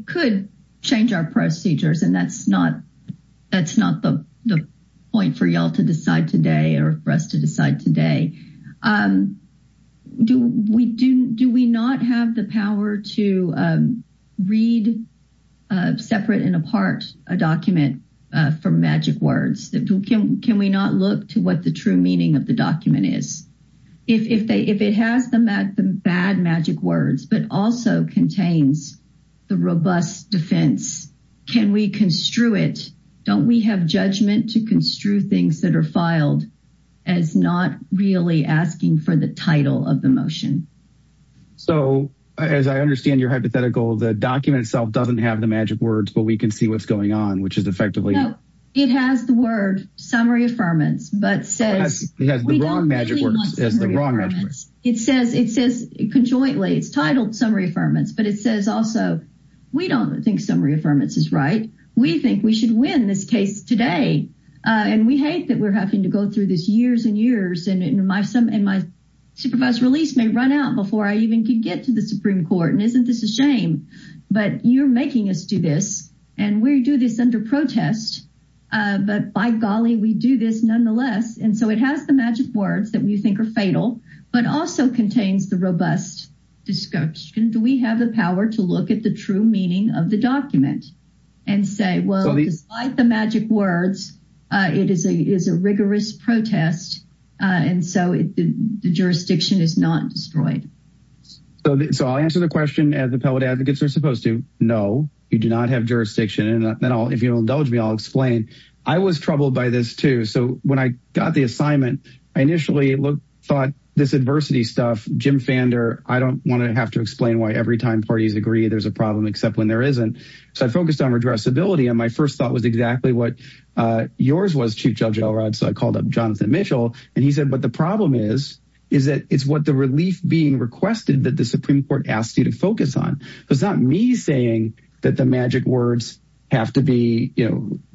could change our procedures, and that's not the point for y'all to decide today or for us to decide today. Do we not have the power to read separate and apart a document for magic words? Can we not look to what the true meaning of the document is? If it has the bad magic words but also contains the robust defense, can we construe it? Don't we have judgment to construe things that are filed as not really asking for the title of the motion? So as I understand your hypothetical, the document itself doesn't have the magic words, but we can see what's going on, which is effectively... It has the word summary affirmance, but says... It has the wrong magic words. It says conjointly, it's titled summary affirmance, but it says also we don't think summary affirmance is right. We think we should win this case today. And we hate that we're having to go through this years and years, and my supervised release may run out before I even can get to the Supreme Court. And isn't this a shame? But you're making us do this, and we do this under protest. But by golly, we do this nonetheless. And so it has the magic words that we think are fatal, but also contains the robust discussion. Do we have the power to look at the true meaning of the document and say, well, despite the magic words, it is a rigorous protest, and so the jurisdiction is not destroyed? So I'll answer the question as appellate advocates are supposed to. No, you do not have jurisdiction. And if you'll indulge me, I'll explain. I was troubled by this, too. So when I got the assignment, I initially thought this adversity stuff, Jim Fander, I don't want to have to explain why every time parties agree there's a problem except when there isn't. So I focused on addressability, and my first thought was exactly what yours was, Chief Judge Elrod. So I called up Jonathan Mitchell, and he said, but the problem is is that it's what the relief being requested that the Supreme Court asked you to focus on. It's not me saying that the magic words have to be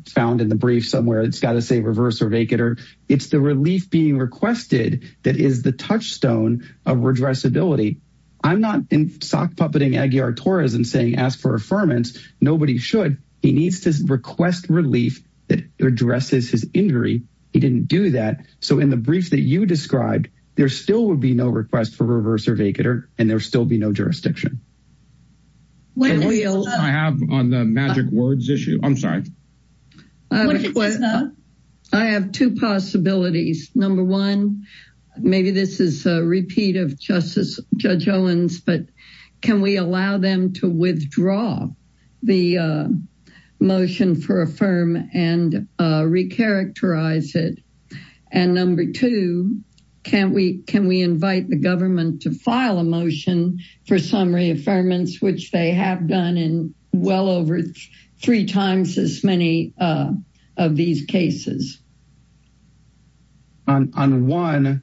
found in the brief somewhere. It's got to say reverse or vacater. It's the relief being requested that is the touchstone of addressability. I'm not sock-puppeting Aguiar-Torres and saying ask for affirmance. Nobody should. He needs to request relief that addresses his injury. He didn't do that. So in the brief that you described, there still would be no request for reverse or vacater, and there would still be no jurisdiction. I have on the magic words issue. I'm sorry. I have two possibilities. Number one, maybe this is a repeat of Judge Owens, but can we allow them to withdraw the motion for affirm and recharacterize it? And number two, can we invite the government to file a motion for some reaffirmance, which they have done in well over three times as many of these cases? On one,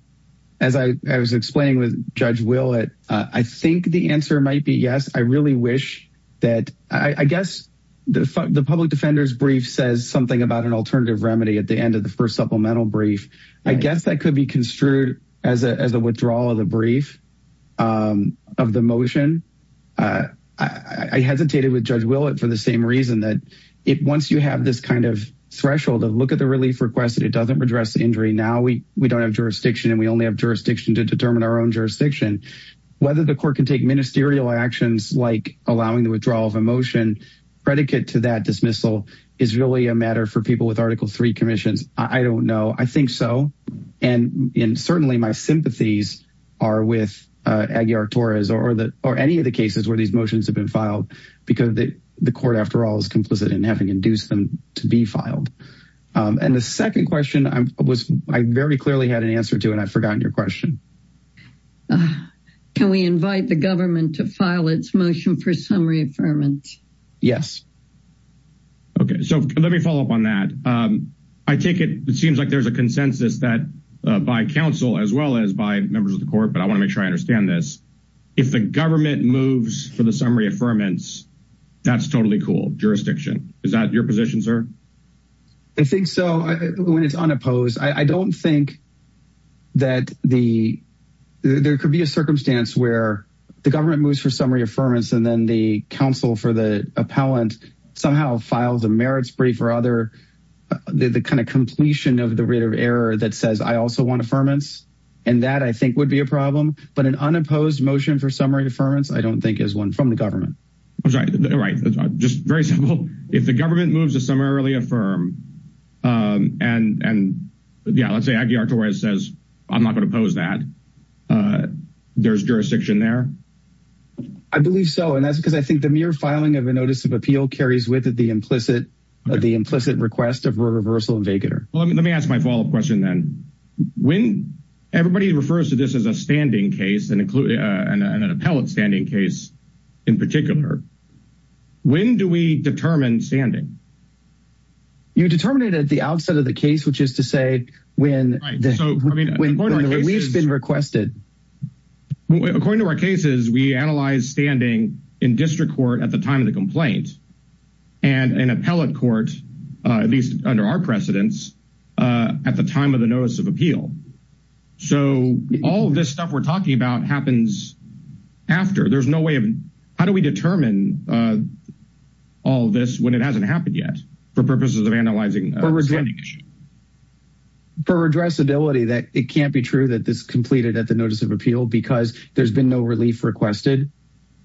as I was explaining with Judge Willett, I think the answer might be yes. I really wish that I guess the public defender's brief says something about an alternative remedy at the end of the first supplemental brief. I guess that could be construed as a withdrawal of the brief of the motion. I hesitated with Judge Willett for the same reason that once you have this kind of threshold to look at the relief request, it doesn't address the injury. Now we don't have jurisdiction, and we only have jurisdiction to determine our own jurisdiction. Whether the court can take ministerial actions like allowing the withdrawal of a motion predicate to that dismissal is really a matter for people with Article III commissions. I don't know. I think so. And certainly my sympathies are with Aguiar-Torres or any of the cases where these motions have been filed because the court, after all, is complicit in having induced them to be filed. And the second question I very clearly had an answer to, and I forgot your question. Can we invite the government to file its motion for some reaffirmance? Yes. Okay. So let me follow up on that. It seems like there's a consensus by counsel as well as by members of the court, but I want to make sure I understand this. If the government moves for the summary affirmance, that's totally cool, jurisdiction. Is that your position, sir? I think so. When it's unopposed. I don't think that there could be a circumstance where the government moves for summary affirmance and then the counsel for the appellant somehow files a merits brief or other, the kind of completion of the rate of error that says I also want affirmance. And that, I think, would be a problem. But an unopposed motion for summary affirmance I don't think is one from the government. Right. Just very simple. If the government moves a summary affirm, and, yeah, let's say Dr. Weiss says I'm not going to oppose that, there's jurisdiction there? I believe so. And that's because I think the mere filing of a notice of appeal carries with it the implicit request of a reversal and vacater. Let me ask my follow-up question then. Everybody refers to this as a standing case, an appellate standing case in particular. When do we determine standing? You determine it at the outset of the case, which is to say when the release has been requested. According to our cases, we analyze standing in district court at the time of the complaint and in appellate court, at least under our precedence, at the time of the notice of appeal. So all of this stuff we're talking about happens after. There's no way of, how do we determine all this when it hasn't happened yet for purposes of analyzing? For addressability, it can't be true that it's completed at the notice of appeal because there's been no relief requested.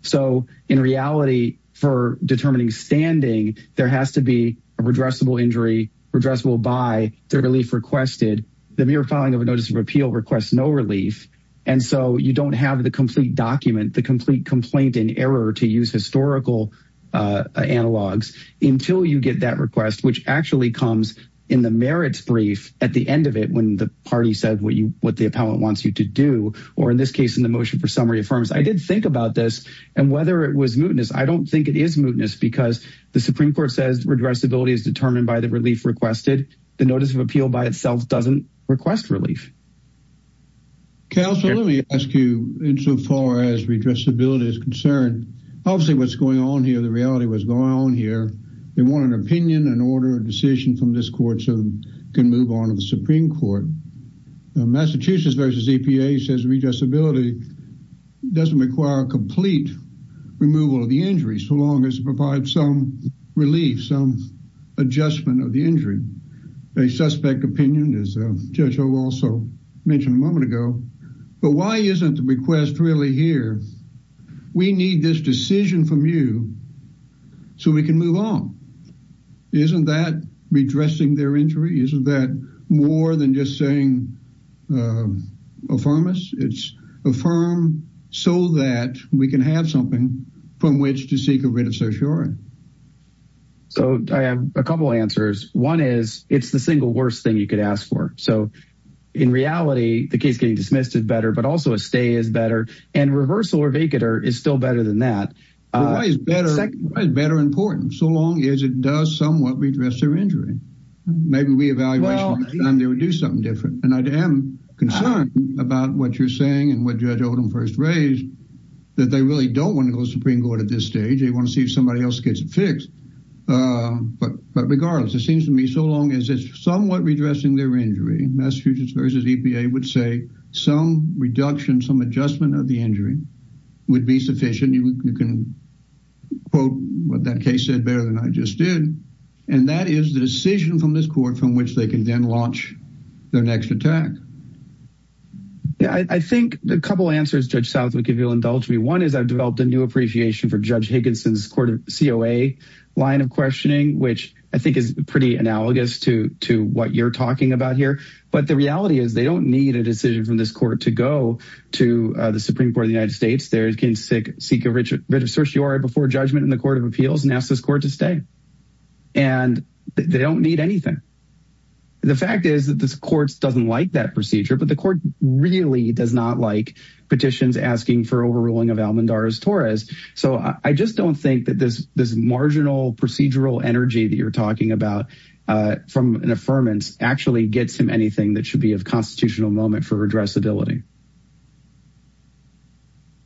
So in reality, for determining standing, there has to be a redressable injury, redressable by the relief requested. The mere filing of a notice of appeal requests no relief. And so you don't have the complete document, the complete complaint in error to use historical analogs until you get that request, which actually comes in the merits brief at the end of it when the party said what the appellate wants you to do. Or in this case, in the motion for summary affirms. I did think about this and whether it was mootness. I don't think it is mootness because the Supreme Court says redressability is determined by the relief requested. The notice of appeal by itself doesn't request relief. Counselor, let me ask you, insofar as redressability is concerned, obviously what's going on here, the reality of what's going on here, they want an opinion, an order, a decision from this court so they can move on to the Supreme Court. Massachusetts v. EPA says redressability doesn't require a complete removal of the injury so long as it provides some relief, some adjustment of the injury. A suspect opinion, as Judge Ho also mentioned a moment ago. But why isn't the request really here? We need this decision from you so we can move on. Isn't that redressing their injury? Isn't that more than just saying affirm us? It's affirm so that we can have something from which to seek a reassuring. So I have a couple answers. One is it's the single worst thing you could ask for. So in reality, the case getting dismissed is better, but also a stay is better. And reversal or vacater is still better than that. Why is better important? So long as it does somewhat redress their injury. Maybe we evaluate and do something different. And I am concerned about what you're saying and what Judge Odom first raised, that they really don't want to go to the Supreme Court at this stage. They want to see if somebody else gets it fixed. But regardless, it seems to me so long as it's somewhat redressing their injury. Massachusetts v. EPA would say some reduction, some adjustment of the injury would be sufficient. You can quote what that case said better than I just did. And that is the decision from this court from which they can then launch their next attack. I think a couple answers, Judge Southwick, if you'll indulge me. One is I've developed a new appreciation for Judge Higginson's COA line of questioning, which I think is pretty analogous to what you're talking about here. But the reality is they don't need a decision from this court to go to the Supreme Court of the United States. They can seek a writ of certiorari before judgment in the Court of Appeals and ask this court to stay. And they don't need anything. The fact is that this court doesn't like that procedure. But the court really does not like petitions asking for overruling of Almendarez-Torres. So I just don't think that this marginal procedural energy that you're talking about from an affirmance actually gets him anything that should be a constitutional moment for redressability.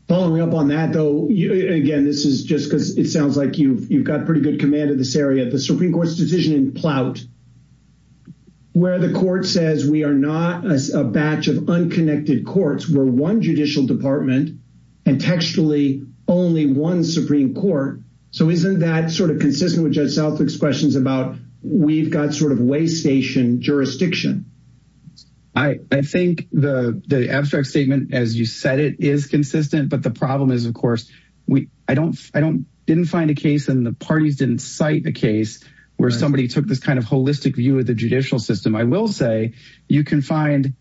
Following up on that, though, again, this is just because it sounds like you've got pretty good command of this area. The Supreme Court's decision in Plout where the court says we are not a batch of unconnected courts. We're one judicial department and textually only one Supreme Court. So isn't that sort of consistent with Judge Southwick's questions about we've got sort of waystation jurisdiction? I think the abstract statement as you said it is consistent. But the problem is, of course, I didn't find a case and the parties didn't cite the case where somebody took this kind of holistic view of the judicial system. I will say you can find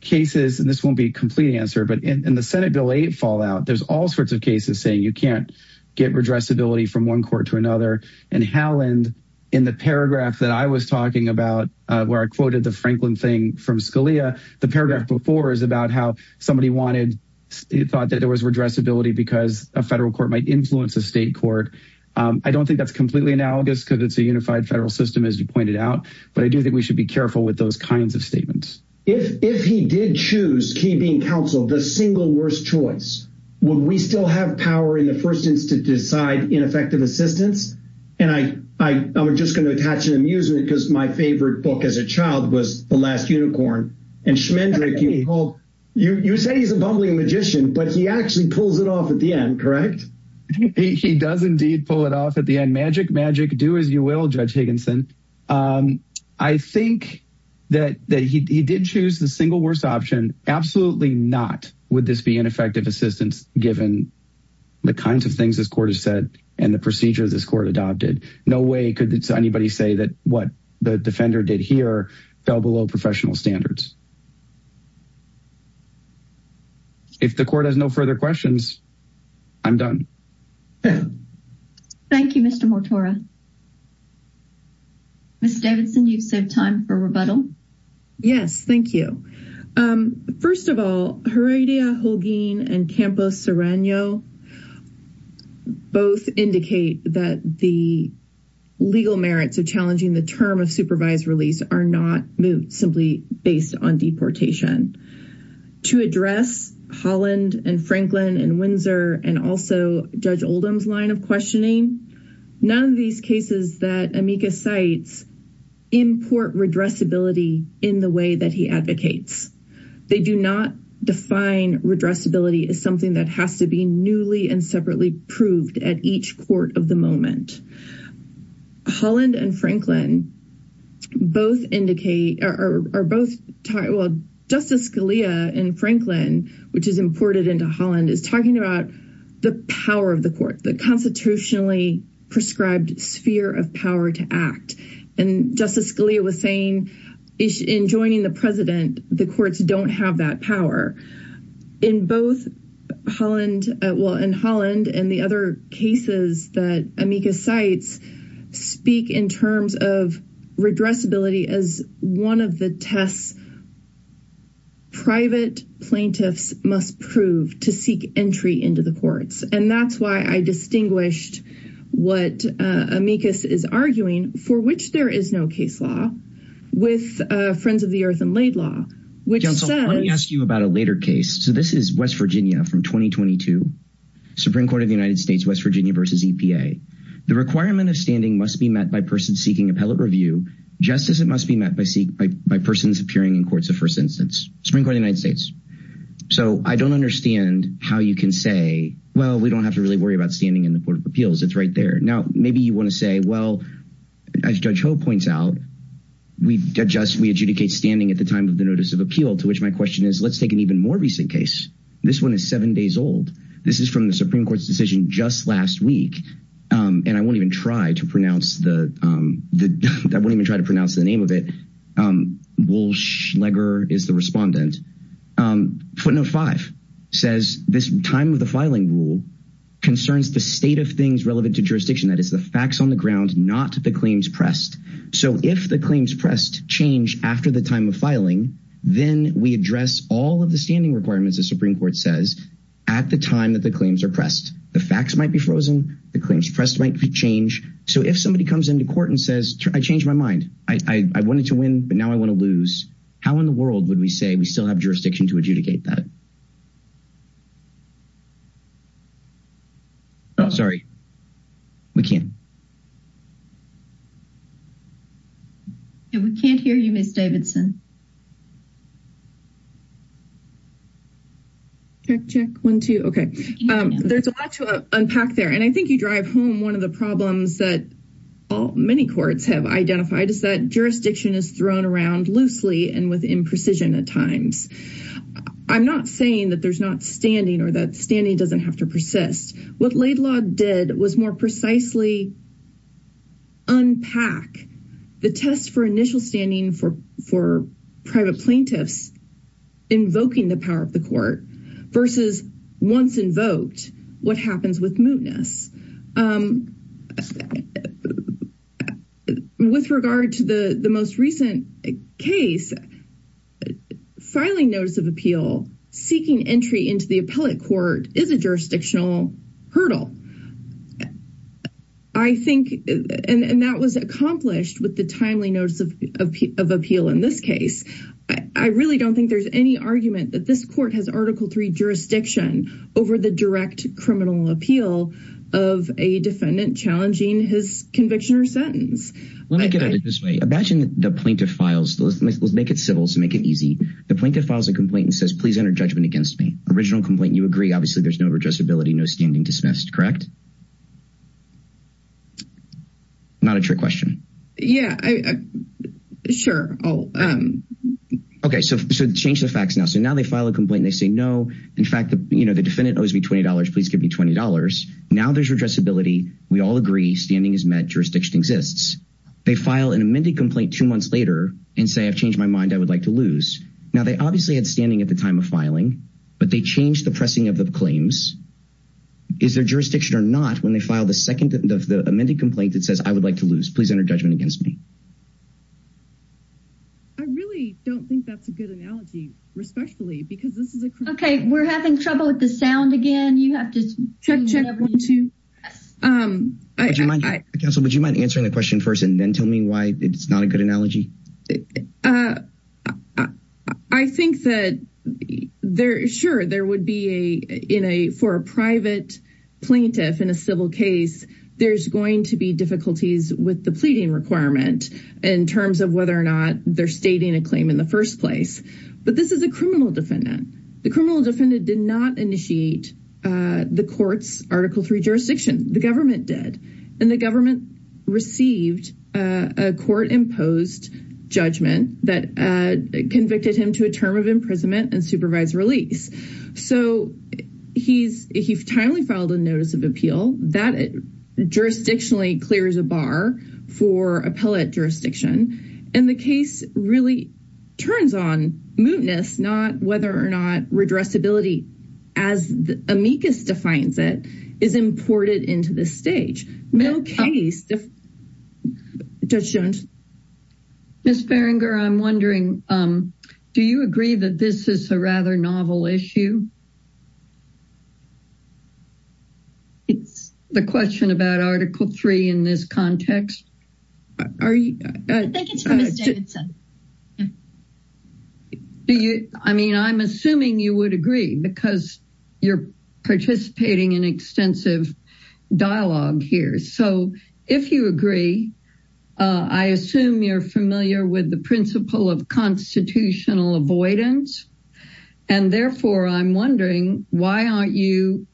cases, and this won't be a complete answer, but in the Senate Bill 8 fallout, there's all sorts of cases saying you can't get redressability from one court to another. And Halland, in the paragraph that I was talking about where I quoted the Franklin thing from Scalia, the paragraph before is about how somebody thought that there was redressability because a federal court might influence a state court. I don't think that's completely analogous because it's a unified federal system, as you pointed out. But I do think we should be careful with those kinds of statements. If he did choose, he being counsel, the single worst choice, would we still have power in the first instance to decide ineffective assistance? And I was just going to attach an amusement because my favorite book as a child was The Last Unicorn. And Schmendrick, you say he's a bumbling magician, but he actually pulls it off at the end, correct? He does indeed pull it off at the end. Magic, magic, do as you will, Judge Higginson. I think that he did choose the single worst option. Absolutely not would this be ineffective assistance given the kinds of things this court has said and the procedure this court adopted. No way could anybody say that what the defender did here fell below professional standards. If the court has no further questions, I'm done. Thank you, Mr. Mortora. Ms. Davidson, do you have time for rebuttal? Yes, thank you. First of all, Heredia, Holguin, and Campos-Serrano both indicate that the legal merits of challenging the term of supervised release are not moved simply based on deportation. To address Holland and Franklin and Windsor and also Judge Oldham's line of questioning, none of these cases that Amika cites import redressability in the way that he advocates. They do not define redressability as something that has to be newly and separately proved at each court of the moment. Holland and Franklin both indicate or both Justice Scalia and Franklin, which is imported into Holland, is talking about the power of the court, the constitutionally prescribed sphere of power to act. And Justice Scalia was saying in joining the president, the courts don't have that power. In both Holland and the other cases that Amika cites speak in terms of redressability as one of the tests private plaintiffs must prove to seek entry into the courts. And that's why I distinguished what Amika is arguing, for which there is no case law, with Friends of the Earth and Laid Law. Let me ask you about a later case. So this is West Virginia from 2022 Supreme Court of the United States, West Virginia versus EPA. The requirement of standing must be met by person seeking appellate review. Just as it must be met by persons appearing in courts of first instance, Supreme Court of the United States. So I don't understand how you can say, well, we don't have to really worry about standing in the Court of Appeals. It's right there. Now, maybe you want to say, well, as Judge Ho points out, we adjudicate standing at the time of the notice of appeal, to which my question is, let's take an even more recent case. This one is seven days old. This is from the Supreme Court's decision just last week. And I won't even try to pronounce the name of it. Wolfschleger is the respondent. Footnote five says this time of the filing rule concerns the state of things relevant to jurisdiction. That is the facts on the ground, not the claims pressed. So if the claims pressed change after the time of filing, then we address all of the standing requirements. The Supreme Court says at the time that the claims are pressed, the facts might be frozen. The claims pressed might change. So if somebody comes into court and says, I changed my mind. I wanted to win, but now I want to lose. How in the world would we say we still have jurisdiction to adjudicate that? Oh, sorry. We can't. We can't hear you, Ms. Davidson. Check, check. One, two. Okay. There's a lot to unpack there. And I think you drive home one of the problems that many courts have identified is that jurisdiction is thrown around loosely and with imprecision at times. I'm not saying that there's not standing or that standing doesn't have to persist. What Laidlaw did was more precisely unpack the test for initial standing for private plaintiffs invoking the power of the court versus once invoked, what happens with mootness. With regard to the most recent case, filing notice of appeal, seeking entry into the appellate court is a jurisdictional hurdle. And that was accomplished with the timely notice of appeal in this case. I really don't think there's any argument that this court has Article III jurisdiction over the direct criminal appeal of a defendant challenging his conviction or sentence. Let me put it this way. Imagine the plaintiff files a complaint and says, please enter judgment against me. Original complaint, you agree, obviously there's no redressability, no standing dismissed, correct? Not a trick question. Yeah, sure. Okay, so change the facts now. So now they file a complaint and they say no, in fact the defendant owes me $20, please give me $20. Now there's redressability, we all agree, standing is met, jurisdiction exists. They file an amended complaint two months later and say I've changed my mind, I would like to lose. Now they obviously have standing at the time of filing, but they change the pressing of the claims. Is there jurisdiction or not when they file the amended complaint that says I would like to lose, please enter judgment against me? I really don't think that's a good analogy, respectfully, because this is a criminal case. Okay, we're having trouble with the sound again. Counsel, would you mind answering the question first and then tell me why it's not a good analogy? I think that, sure, there would be, for a private plaintiff in a civil case, there's going to be difficulties with the pleading requirement in terms of whether or not they're stating a claim in the first place. But this is a criminal defendant. The criminal defendant did not initiate the court's Article III jurisdiction, the government did. And the government received a court-imposed judgment that convicted him to a term of imprisonment and supervised release. So he's timely filed a notice of appeal. That jurisdictionally clears a bar for appellate jurisdiction. And the case really turns on mootness, not whether or not regressibility, as amicus defines it, is imported into the stage. Ms. Ferenger, I'm wondering, do you agree that this is a rather novel issue? The question about Article III in this context? I mean, I'm assuming you would agree because you're participating in extensive dialogue here. So if you agree, I assume you're familiar with the principle of constitutional avoidance. And therefore, I'm wondering, why aren't you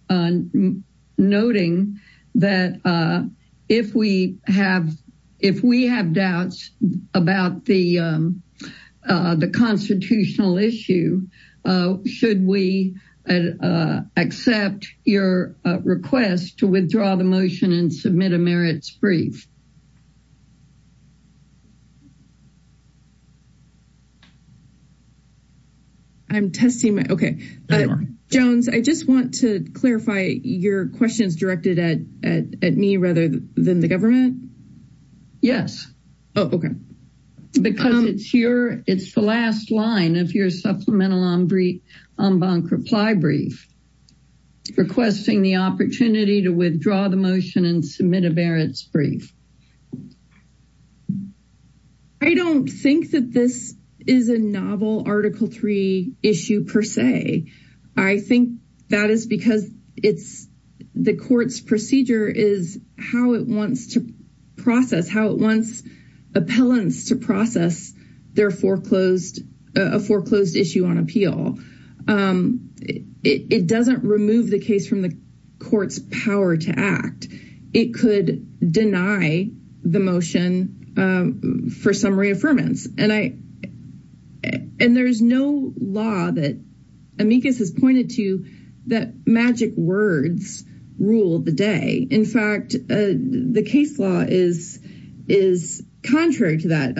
noting that if we have doubts about the constitutional issue, should we accept your request to withdraw the motion and submit a merits brief? Jones, I just want to clarify, your question is directed at me rather than the government? Yes. Oh, okay. Because it's the last line of your supplemental en banc reply brief, requesting the opportunity to withdraw the motion and submit a merits brief. I don't think that this is a novel Article III issue per se. I think that is because the court's procedure is how it wants to process, how it wants appellants to process their foreclosed, a foreclosed issue on appeal. It doesn't remove the case from the court's power to act. It could deny the motion for some reaffirmance. And there's no law that amicus has pointed to that magic words rule the day. In fact, the case law is contrary to that.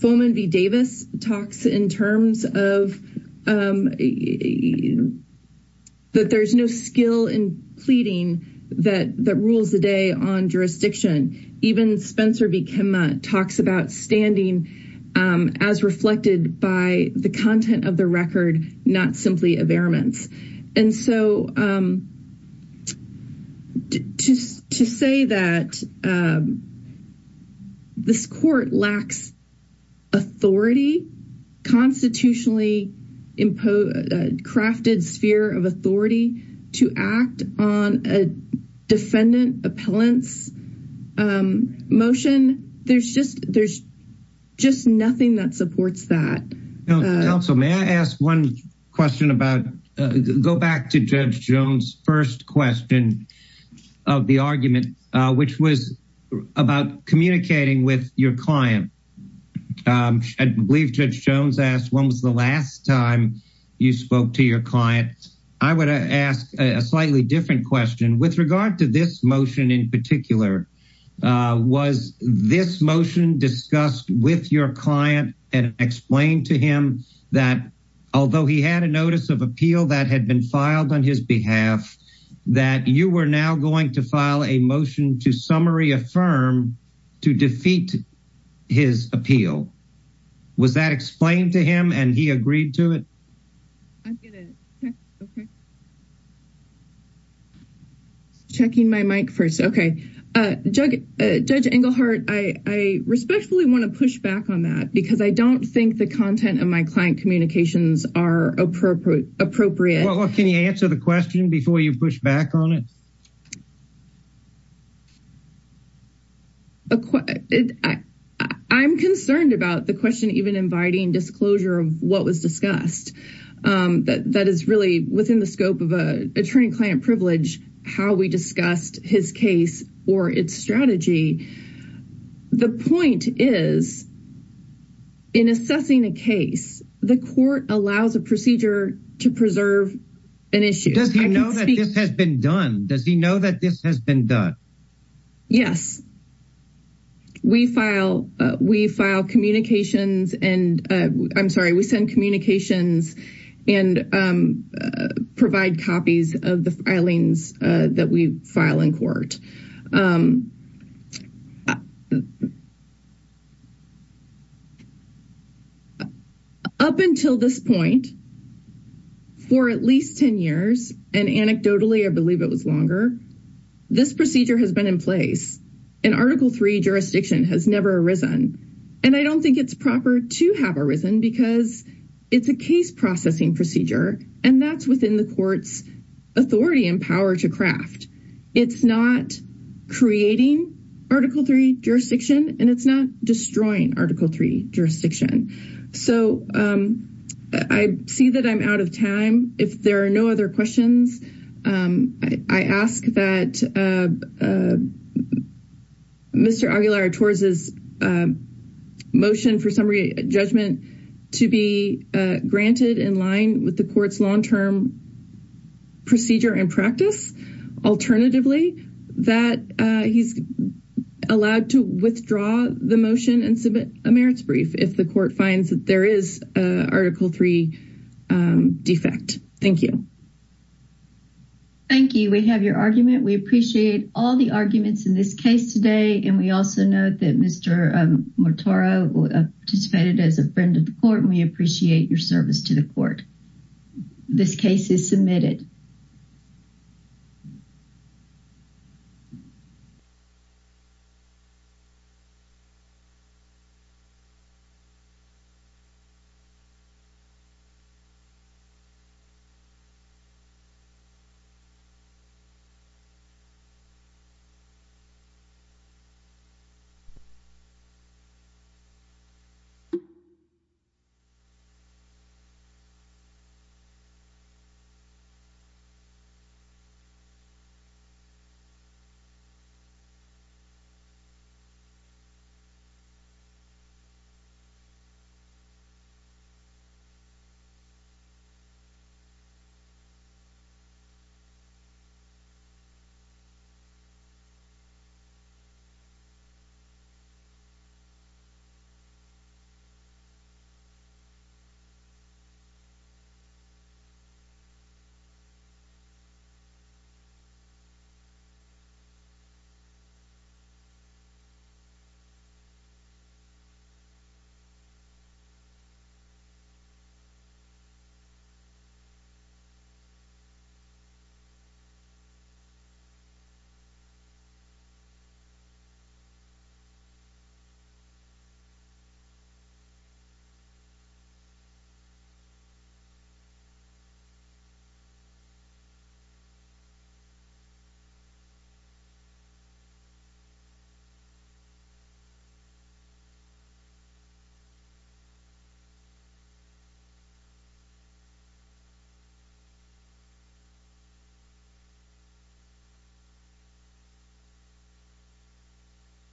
Fulman v. Davis talks in terms of that there's no skill in pleading that rules the day on jurisdiction. Even Spencer v. Kimma talks about standing as reflected by the content of the record, not simply abearance. And so to say that this court lacks authority, constitutionally crafted sphere of authority to act on a defendant appellant's motion, there's just nothing that supports that. May I ask one question about, go back to Judge Jones' first question of the argument, which was about communicating with your client. I believe Judge Jones asked, when was the last time you spoke to your client? I would ask a slightly different question. With regard to this motion in particular, was this motion discussed with your client and explained to him that although he had a notice of appeal that had been filed on his behalf, that you were now going to file a motion to summary affirm to defeat his appeal? Was that explained to him and he agreed to it? I'm going to check, okay. Checking my mic first, okay. Judge Engelhardt, I respectfully want to push back on that because I don't think the content of my client communications are appropriate. Well, can you answer the question before you push back on it? I'm concerned about the question even inviting disclosure of what was discussed. That is really within the scope of attorney-client privilege, how we discussed his case or its strategy. The point is, in assessing a case, the court allows a procedure to preserve an issue. Does he know that this has been done? Yes. We file communications and provide copies of the filings that we file in court. Up until this point, for at least 10 years, and anecdotally, I believe it was longer, this procedure has been in place. In Article III, jurisdiction has never arisen. And I don't think it's proper to have arisen because it's a case-processing procedure, and that's within the court's authority and power to craft. It's not creating Article III jurisdiction, and it's not destroying Article III jurisdiction. So I see that I'm out of time. If there are no other questions, I ask that Mr. Aguilar-Torres' motion for summary judgment to be granted in line with the court's long-term procedure and practice. Alternatively, that he's allowed to withdraw the motion and submit a merits brief if the court finds that there is an Article III defect. Thank you. Thank you. We have your argument. We appreciate all the arguments in this case today, and we also note that Mr. Mortora participated as a friend of the court, and we appreciate your service to the court. This case is submitted. Thank you. Thank you. Thank you. Thank you. Thank you. Thank you.